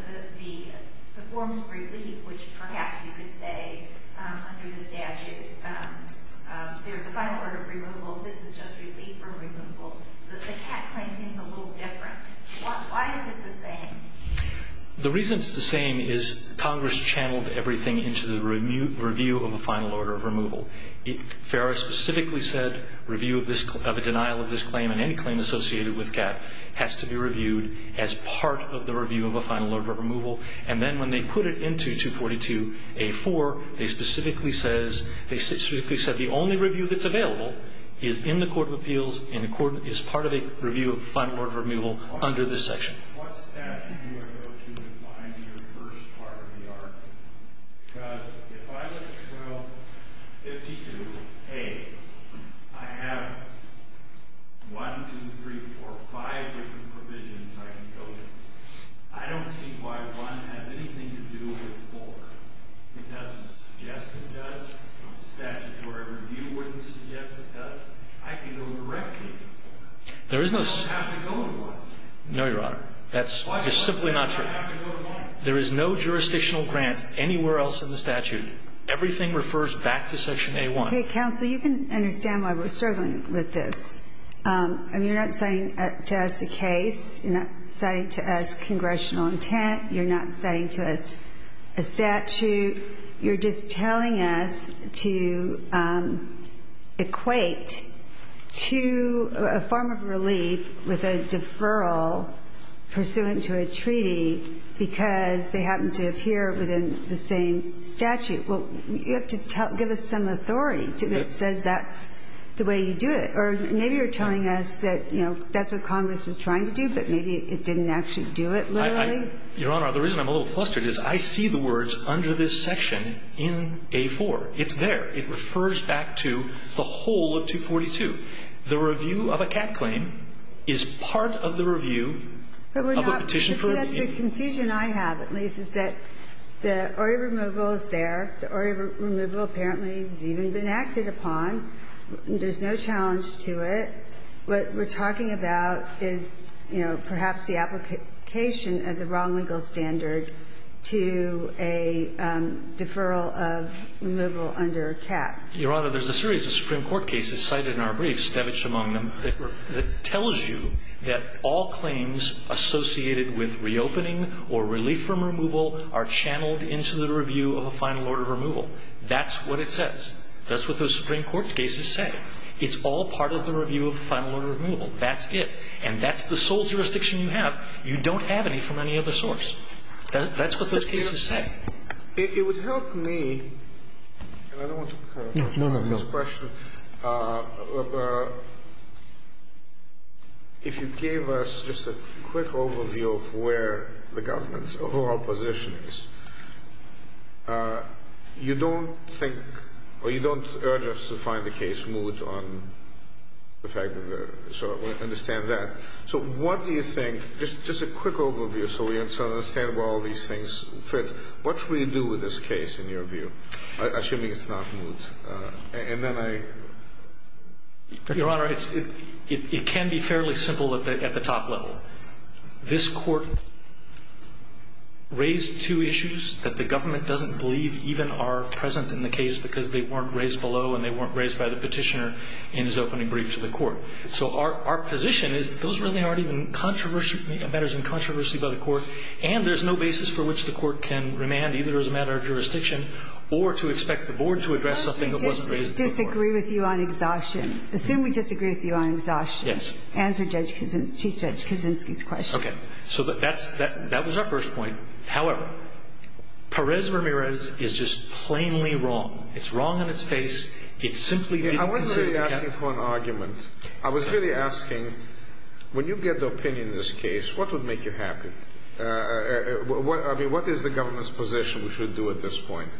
forms of relief, which perhaps you could say under the statute there's a final order of removal, this is just relief from removal? The CAC claim seems a little different. Why is it the same? The reason it's the same is Congress channeled everything into the review of a final order of removal. FARA specifically said review of a denial of this claim and any claim associated with CAC has to be reviewed as part of the review of a final order of removal. And then when they put it into 242A-4, they specifically said the only review that's available is in the Court of Appeals and is part of a review of a final order of removal under this section. What statute do I go to to find your first part of the argument? Because if I look at 1252A, I have one, two, three, four, five different provisions I can go to. I don't see why one has anything to do with four. It doesn't suggest it does. The statutory review wouldn't suggest it does. I can go directly to four. I don't have to go to one. No, Your Honor. That's just simply not true. There is no jurisdictional grant anywhere else in the statute. Everything refers back to section A-1. Hey, counsel, you can understand why we're struggling with this. I mean, you're not citing to us a case. You're not citing to us congressional intent. You're not citing to us a statute. You're just telling us to equate to a form of relief with a deferral pursuant to a treaty because they happen to appear within the same statute. Well, you have to give us some authority that says that's the way you do it. Or maybe you're telling us that, you know, that's what Congress was trying to do, but maybe it didn't actually do it literally. Your Honor, the reason I'm a little flustered is I see the words under this section in A-4. It's there. It refers back to the whole of 242. The review of a cat claim is part of the review of a petition for relief. That's the confusion I have, at least, is that the order removal is there. The order removal apparently has even been acted upon. There's no challenge to it. What we're talking about is, you know, perhaps the application of the wrong legal standard to a deferral of removal under a cat. Your Honor, there's a series of Supreme Court cases cited in our briefs, Stevich among them, that tells you that all claims associated with reopening or relief from removal are channeled into the review of a final order of removal. That's what it says. That's what those Supreme Court cases say. It's all part of the review of a final order of removal. That's it. And that's the sole jurisdiction you have. You don't have any from any other source. That's what those cases say. It would help me, and I don't want to cut off this question. If you gave us just a quick overview of where the government's overall position is, you don't think or you don't urge us to find the case moot on the fact that we're sort of understand that. So what do you think, just a quick overview so we understand where all these things fit, what should we do with this case, in your view, assuming it's not moot? And then I ---- Your Honor, it can be fairly simple at the top level. This Court raised two issues that the government doesn't believe even are present in the case because they weren't raised below and they weren't raised by the Petitioner in his opening brief to the Court. So our position is that those really aren't even matters in controversy by the Court, and there's no basis for which the Court can remand either as a matter of jurisdiction or to expect the Board to address something that wasn't raised by the Board. Suppose we disagree with you on exhaustion. Assume we disagree with you on exhaustion. Yes. Answer Chief Judge Kaczynski's question. Okay. So that was our first point. However, Perez-Ramirez is just plainly wrong. It's wrong in its face. It simply didn't consider the case. I wasn't really asking for an argument. I was really asking, when you get the opinion in this case, what would make you happy? I mean, what is the government's position we should do at this point?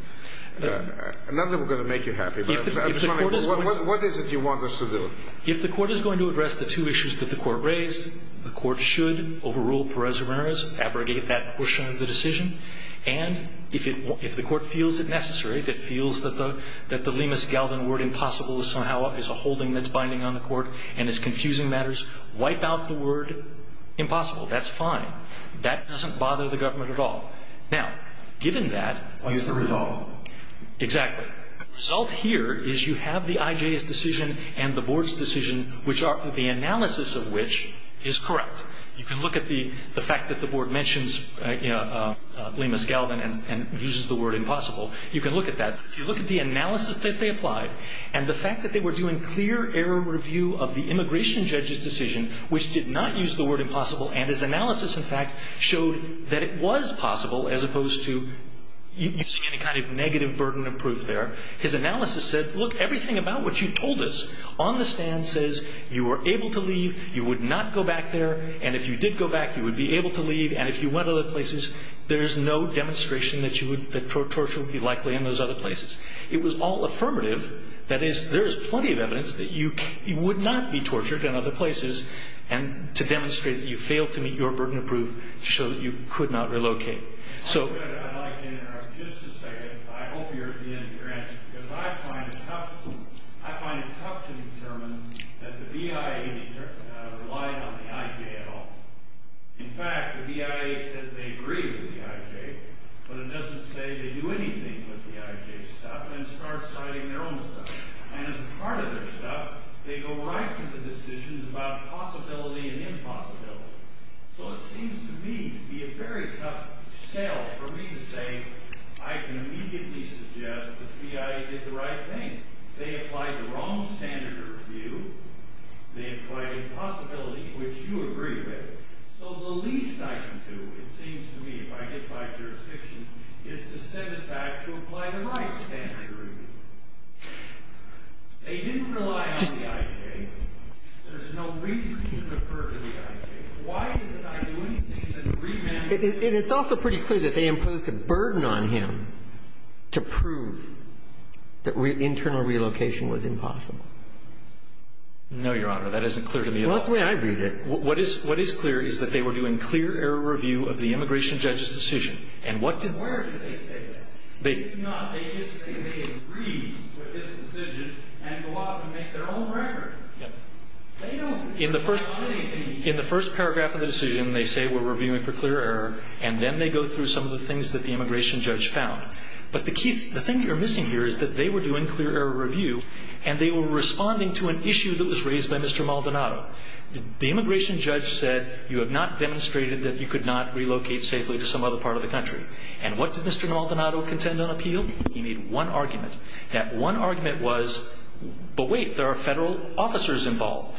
Not that we're going to make you happy, but I'm just wondering, what is it you want us to do? If the Court is going to address the two issues that the Court raised, the Court should overrule Perez-Ramirez, abrogate that portion of the decision, and if the Court feels it necessary, if it feels that the Lemus-Galvin word impossible somehow is a holding that's binding on the Court and is confusing matters, wipe out the word impossible. That's fine. That doesn't bother the government at all. Now, given that, you have to resolve. Exactly. The analysis of which is correct. You can look at the fact that the Board mentions Lemus-Galvin and uses the word impossible. You can look at that. If you look at the analysis that they applied and the fact that they were doing clear error review of the immigration judge's decision, which did not use the word impossible, and his analysis, in fact, showed that it was possible, as opposed to using any kind of negative burden of proof there. His analysis said, look, everything about what you told us on the stand says you were able to leave, you would not go back there, and if you did go back, you would be able to leave, and if you went other places, there's no demonstration that torture would be likely in those other places. It was all affirmative. That is, there is plenty of evidence that you would not be tortured in other places to demonstrate that you failed to meet your burden of proof to show that you could not relocate. I'd like to interrupt just a second. I hope you're at the end of your answer, because I find it tough to determine that the BIA relied on the IJ at all. In fact, the BIA says they agree with the IJ, but it doesn't say they do anything with the IJ's stuff and start citing their own stuff. And as a part of their stuff, they go right to the decisions about possibility and impossibility. So it seems to me to be a very tough sell for me to say, I can immediately suggest the BIA did the right thing. They applied the wrong standard of review. They implied impossibility, which you agree with. So the least I can do, it seems to me, if I get by jurisdiction, is to send it back to apply the right standard of review. They didn't rely on the IJ. There's no reason to defer to the IJ. Why did they not do anything to remand the IJ? And it's also pretty clear that they imposed a burden on him to prove that internal relocation was impossible. No, Your Honor. That isn't clear to me at all. Well, that's the way I read it. What is clear is that they were doing clear error review of the immigration judge's decision. And what did they do? Where did they say that? They did not. They just say they agree with his decision and go off and make their own record. They don't do anything. In the first paragraph of the decision, they say we're reviewing for clear error, and then they go through some of the things that the immigration judge found. But the thing you're missing here is that they were doing clear error review, and they were responding to an issue that was raised by Mr. Maldonado. The immigration judge said, you have not demonstrated that you could not relocate safely to some other part of the country. And what did Mr. Maldonado contend on appeal? He made one argument. That one argument was, but wait, there are federal officers involved.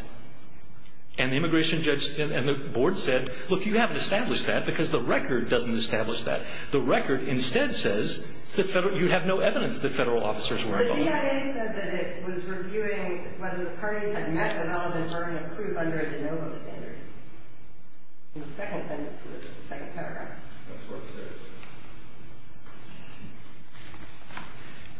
And the immigration judge and the board said, look, you haven't established that because the record doesn't establish that. The record instead says that you have no evidence that federal officers were involved. The DIA said that it was reviewing whether the parties had met the relevant burden of proof under a de novo standard. In the second sentence, the second paragraph. That's what it says.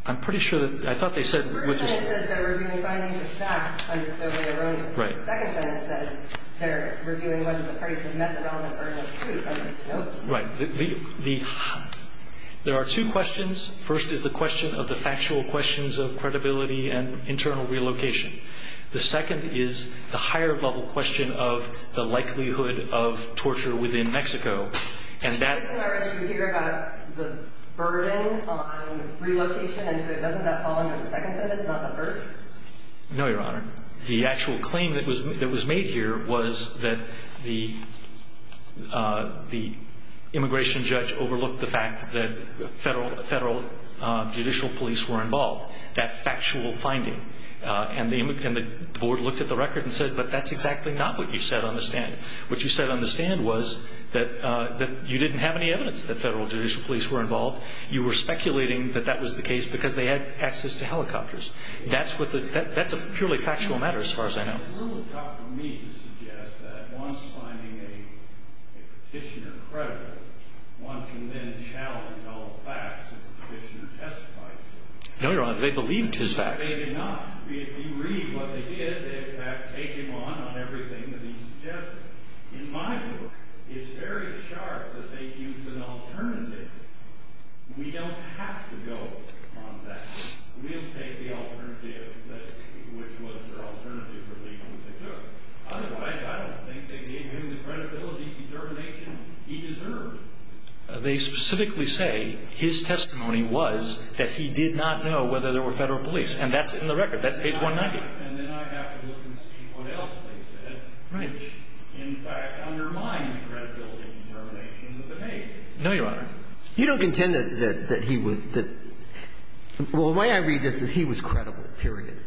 I'm pretty sure that, I thought they said. The first sentence says they're reviewing finding the facts under clear error. Right. The second sentence says they're reviewing whether the parties had met the relevant burden of proof under a de novo standard. Right. There are two questions. First is the question of the factual questions of credibility and internal relocation. The second is the higher level question of the likelihood of torture within Mexico. And that. Did you hear about the burden on relocation? And so doesn't that fall under the second sentence, not the first? No, Your Honor. The actual claim that was made here was that the immigration judge overlooked the fact that federal judicial police were involved. That factual finding. And the board looked at the record and said, but that's exactly not what you said on the stand. What you said on the stand was that you didn't have any evidence that federal judicial police were involved. You were speculating that that was the case because they had access to helicopters. That's a purely factual matter as far as I know. It's a little tough for me to suggest that once finding a petitioner credible, one can then challenge all the facts that the petitioner testified to. No, Your Honor. They believed his facts. They did not. If you read what they did, they, in fact, take him on on everything that he suggested. In my book, it's very sharp that they used an alternative. We don't have to go on that. We'll take the alternative, which was their alternative for me to do. Otherwise, I don't think they gave him the credibility and determination he deserved. But they specifically say his testimony was that he did not know whether there were federal police. And that's in the record. That's page 190. And then I have to look and see what else they said, which, in fact, undermined the credibility and determination of the case. No, Your Honor. You don't contend that he was the – well, the way I read this is he was credible, period.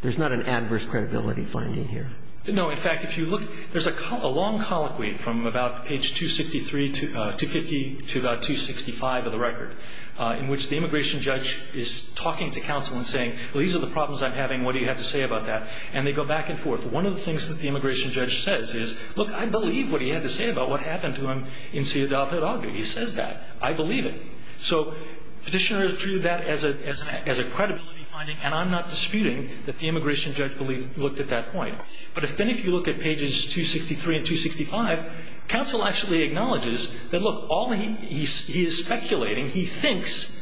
There's not an adverse credibility finding here. No. In fact, if you look, there's a long colloquy from about page 263 to – 250 to about 265 of the record, in which the immigration judge is talking to counsel and saying, well, these are the problems I'm having. What do you have to say about that? And they go back and forth. One of the things that the immigration judge says is, look, I believe what he had to say about what happened to him in Ciudad Hidalgo. He says that. I believe it. So Petitioner has treated that as a credibility finding, and I'm not disputing that the immigration judge believed – looked at that point. But then if you look at pages 263 and 265, counsel actually acknowledges that, look, all he is speculating, he thinks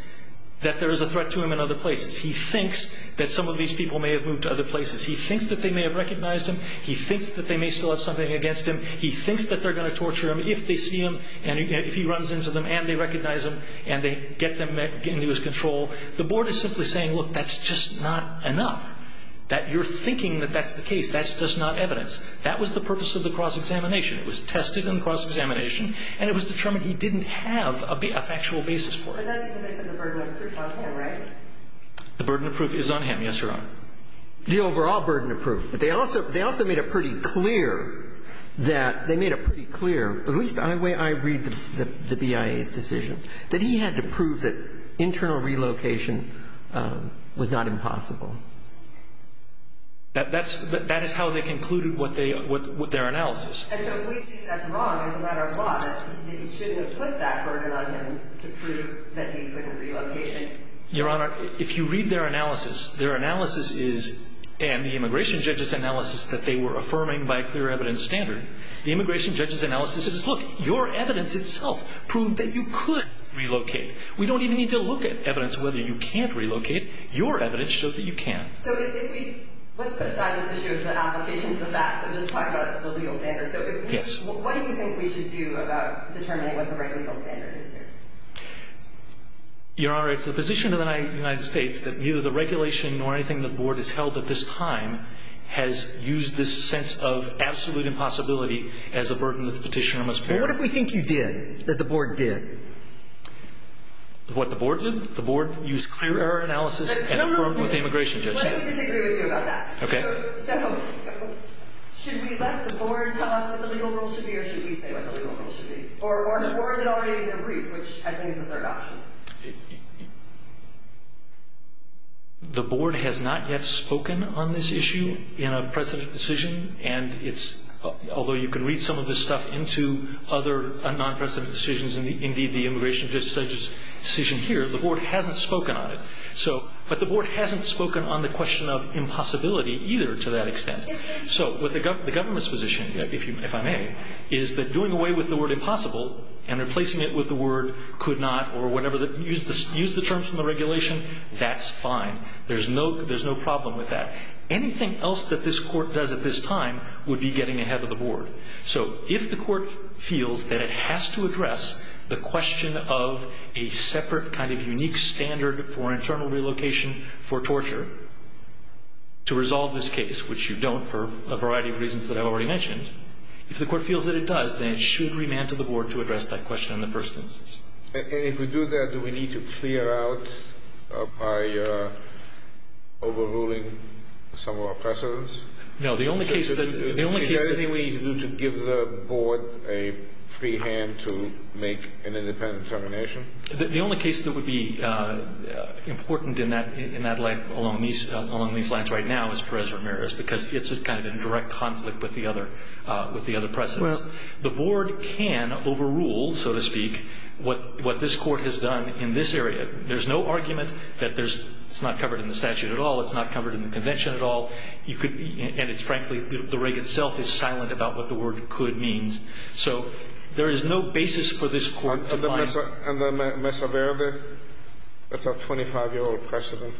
that there is a threat to him in other places. He thinks that some of these people may have moved to other places. He thinks that they may have recognized him. He thinks that they may still have something against him. He thinks that they're going to torture him if they see him and if he runs into them and they recognize him and they get them into his control. The board is simply saying, look, that's just not enough, that you're thinking that that's the case. That's just not evidence. That was the purpose of the cross-examination. It was tested in the cross-examination, and it was determined he didn't have a factual basis for it. And that's to make the burden of proof on him, right? The burden of proof is on him, yes, Your Honor. The overall burden of proof. But they also made it pretty clear that they made it pretty clear, at least the way I read the BIA's decision, that he had to prove that internal relocation was not impossible. That is how they concluded what their analysis. And so we think that's wrong as a matter of law, that he shouldn't have put that burden on him to prove that he couldn't relocate. Your Honor, if you read their analysis, their analysis is, and the immigration judge's analysis, that they were affirming by clear evidence standard. The immigration judge's analysis is, look, your evidence itself proved that you could relocate. We don't even need to look at evidence whether you can't relocate. Your evidence showed that you can. So if we, let's put aside this issue of the application for the facts and just talk about the legal standard. So what do you think we should do about determining what the right legal standard is here? Your Honor, it's the position of the United States that neither the regulation nor anything the board has held at this time has used this sense of absolute impossibility as a burden that the petitioner must bear. Well, what if we think you did, that the board did? What the board did? The board used clear error analysis and the immigration judge did. Let me disagree with you about that. Okay. So should we let the board tell us what the legal rule should be or should we say what the legal rule should be? Or is it already in the briefs, which I think is a third option? The board has not yet spoken on this issue in a precedent decision, and although you can read some of this stuff into other non-precedent decisions, and indeed the immigration judge's decision here, the board hasn't spoken on it. But the board hasn't spoken on the question of impossibility either to that extent. So what the government's position, if I may, is that doing away with the word impossible and replacing it with the word could not or whatever, use the terms from the regulation, that's fine. There's no problem with that. Anything else that this court does at this time would be getting ahead of the board. So if the court feels that it has to address the question of a separate kind of unique standard for internal relocation for torture to resolve this case, which you don't for a variety of reasons that I've already mentioned, if the court feels that it does, then it should remand to the board to address that question in the first instance. And if we do that, do we need to clear out by overruling some of our precedents? No, the only case that the only case that Is there anything we need to do to give the board a free hand to make an independent determination? The only case that would be important in that line along these lines right now is Perez-Ramirez because it's kind of in direct conflict with the other precedents. The board can overrule, so to speak, what this court has done in this area. There's no argument that it's not covered in the statute at all, it's not covered in the convention at all. And frankly, the reg itself is silent about what the word could means. So there is no basis for this court to find And Mesa Verde, that's our 25-year-old precedent,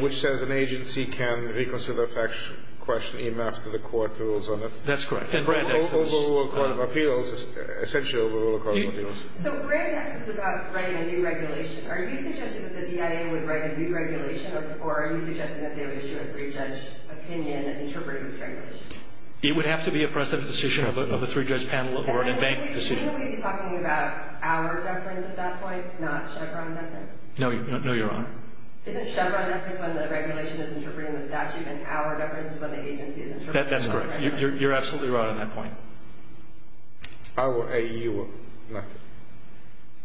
which says an agency can reconsider a question even after the court rules on it. That's correct. Overrule a court of appeals, essentially overrule a court of appeals. So Grant asks us about writing a new regulation. Are you suggesting that the BIA would write a new regulation or are you suggesting that they would issue a three-judge opinion interpreting this regulation? It would have to be a precedent decision of a three-judge panel or a bank decision. Are you talking about our reference at that point, not Chevron reference? No, Your Honor. Isn't Chevron reference when the regulation is interpreting the statute and our reference is when the agency is interpreting the statute? That's correct. You're absolutely right on that point. Our A-U-R.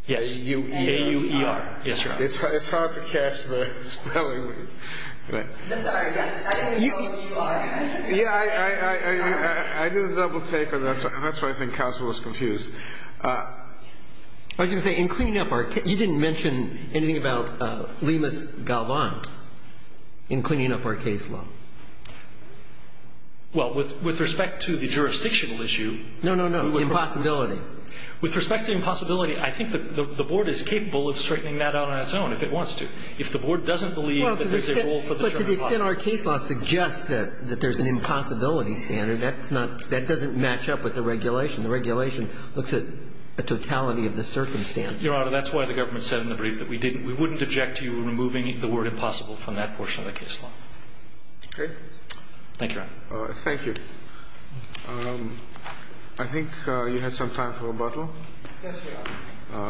Yes. A-U-E-R. Yes, Your Honor. It's hard to catch the spelling. I'm sorry, yes. I didn't know what U-R meant. Yeah, I didn't double-take her. That's why I think counsel was confused. I was going to say, in cleaning up our case, you didn't mention anything about Limas-Galvan in cleaning up our case law. Well, with respect to the jurisdictional issue. No, no, no. The impossibility. With respect to the impossibility, I think the Board is capable of straightening that out on its own if it wants to. If the Board doesn't believe that there's a role for the term impossibility. What's in our case law suggests that there's an impossibility standard. That's not, that doesn't match up with the regulation. The regulation looks at the totality of the circumstances. Your Honor, that's why the government said in the brief that we didn't, we wouldn't object to you removing the word impossible from that portion of the case law. Okay. Thank you, Your Honor. Thank you. I think you had some time for rebuttal. Yes, Your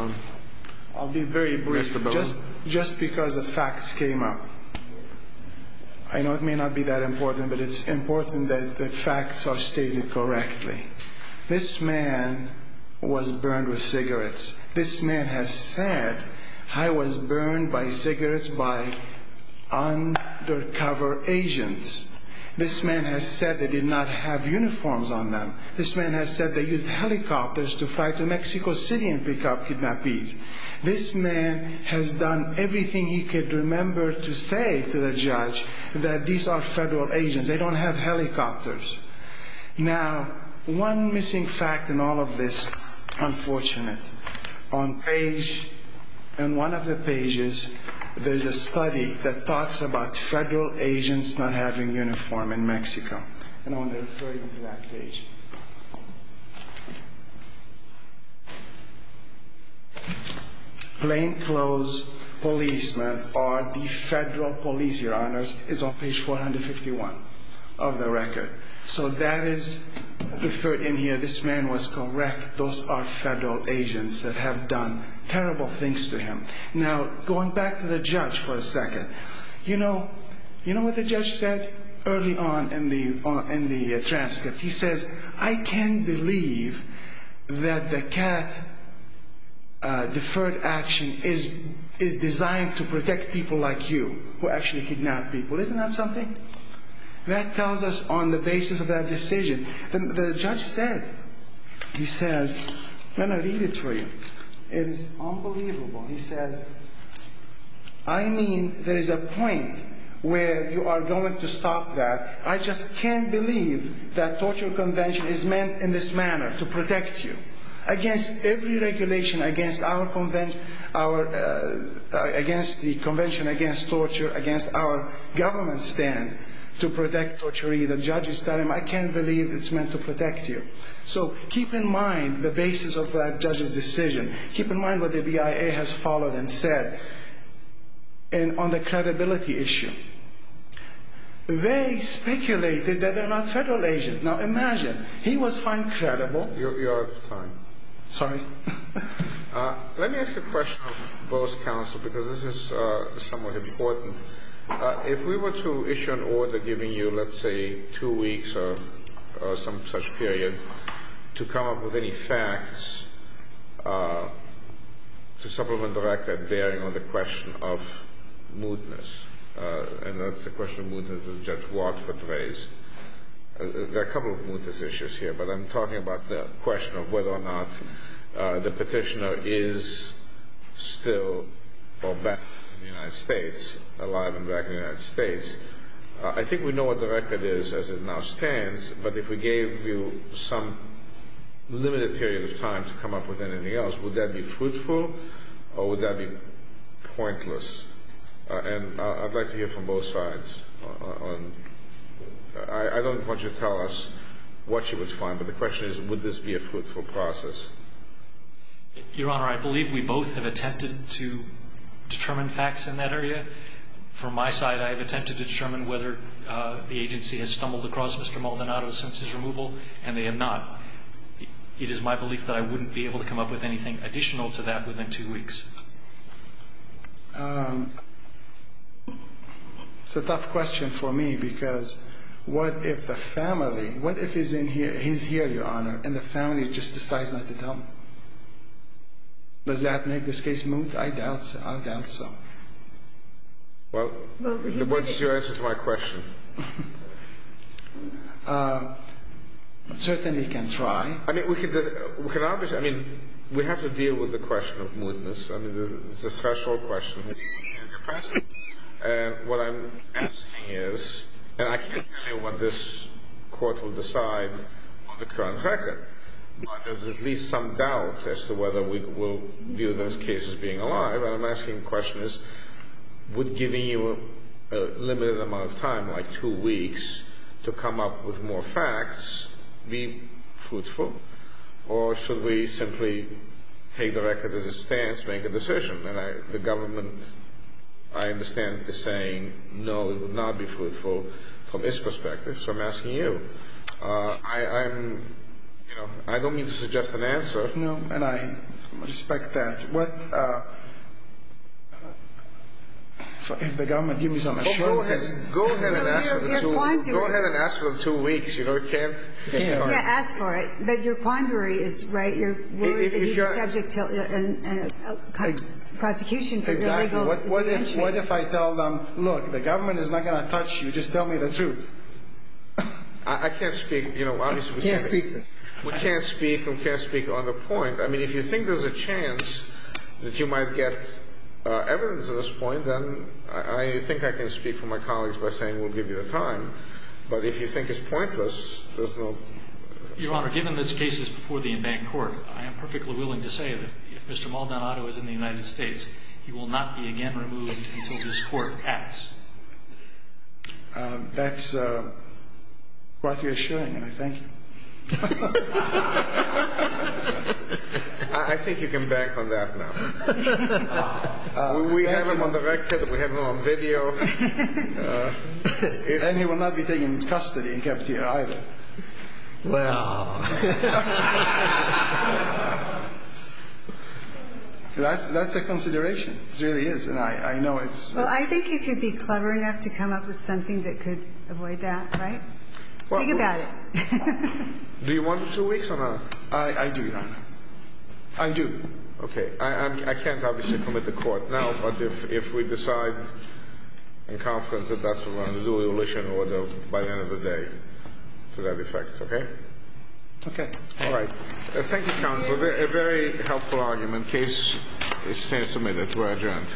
Honor. I'll be very brief. Just because the facts came up. I know it may not be that important, but it's important that the facts are stated correctly. This man was burned with cigarettes. This man has said, I was burned by cigarettes by undercover agents. This man has said they did not have uniforms on them. This man has said they used helicopters to fly to Mexico City and pick up kidnappees. This man has done everything he could remember to say to the judge that these are federal agents. They don't have helicopters. Now, one missing fact in all of this, unfortunate. On page, on one of the pages, there's a study that talks about federal agents not having uniform in Mexico. And I want to refer you to that page. Plainclothes policemen are the federal police, Your Honors. It's on page 451 of the record. So that is referred in here. This man was correct. Those are federal agents that have done terrible things to him. Now, going back to the judge for a second. You know what the judge said? Early on in the transcript, he says, I can't believe that the cat deferred action is designed to protect people like you who actually kidnap people. Isn't that something? That tells us on the basis of that decision. The judge said, he says, let me read it for you. It is unbelievable. He says, I mean, there is a point where you are going to stop that. I just can't believe that torture convention is meant in this manner to protect you. Against every regulation, against our convention, against the convention, against torture, against our government stand to protect torturee, the judge is telling him, I can't believe it's meant to protect you. So keep in mind the basis of that judge's decision. Keep in mind what the BIA has followed and said on the credibility issue. They speculated that they are not federal agents. Now, imagine. He was found credible. You are out of time. Sorry. Let me ask a question of both counsel because this is somewhat important. If we were to issue an order giving you, let's say, two weeks or some such period to come up with any facts to supplement the record bearing on the question of mootness, and that's the question of mootness that Judge Watford raised. There are a couple of mootness issues here, but I'm talking about the question of whether or not the petitioner is still or back in the United States, alive and back in the United States. I think we know what the record is as it now stands, but if we gave you some limited period of time to come up with anything else, would that be fruitful or would that be pointless? And I'd like to hear from both sides. I don't want you to tell us what you would find, but the question is, would this be a fruitful process? Your Honor, I believe we both have attempted to determine facts in that area. From my side, I have attempted to determine whether the agency has stumbled across Mr. Maldonado's census removal, and they have not. It is my belief that I wouldn't be able to come up with anything additional to that within two weeks. It's a tough question for me because what if the family, what if he's here, Your Honor, and the family just decides not to tell me? Does that make this case moot? I doubt so. Certainly can try. I mean, we have to deal with the question of mootness. I mean, it's a threshold question. And what I'm asking is, and I can't tell you what this court will decide on the current record, but there's at least some doubt as to whether we will view this case as being alive. What I'm asking the question is, would giving you a limited amount of time, like two weeks, to come up with more facts be fruitful? Or should we simply take the record as it stands, make a decision? The government, I understand, is saying no, it would not be fruitful from its perspective. So I'm asking you. I don't mean to suggest an answer. No, and I respect that. What if the government gives me some assurance? Go ahead and ask for two weeks. You can't ask for it. But your quandary is right. You're worried that he's subject to prosecution for illegal entry. Exactly. What if I tell them, look, the government is not going to touch you. Just tell me the truth. I can't speak. We can't speak on the point. I mean, if you think there's a chance that you might get evidence at this point, then I think I can speak for my colleagues by saying we'll give you the time. But if you think it's pointless, there's no point. Your Honor, given this case is before the in-bank court, I am perfectly willing to say that if Mr. Maldonado is in the United States, he will not be again removed until this court acts. That's what you're assuring, and I thank you. I think you can bank on that now. We have him on the record. We have him on video. And he will not be taken into custody and kept here either. Well... That's a consideration. It really is, and I know it's... Well, I think you could be clever enough to come up with something that could avoid that, right? Think about it. Do you want two weeks or not? I do, Your Honor. I do. Okay. I can't obviously commit the court now, but if we decide in conference that that's what we're going to do, we will issue an order by the end of the day to that effect, okay? Okay. All right. Thank you, counsel. A very helpful argument. Case is submitted. We're adjourned.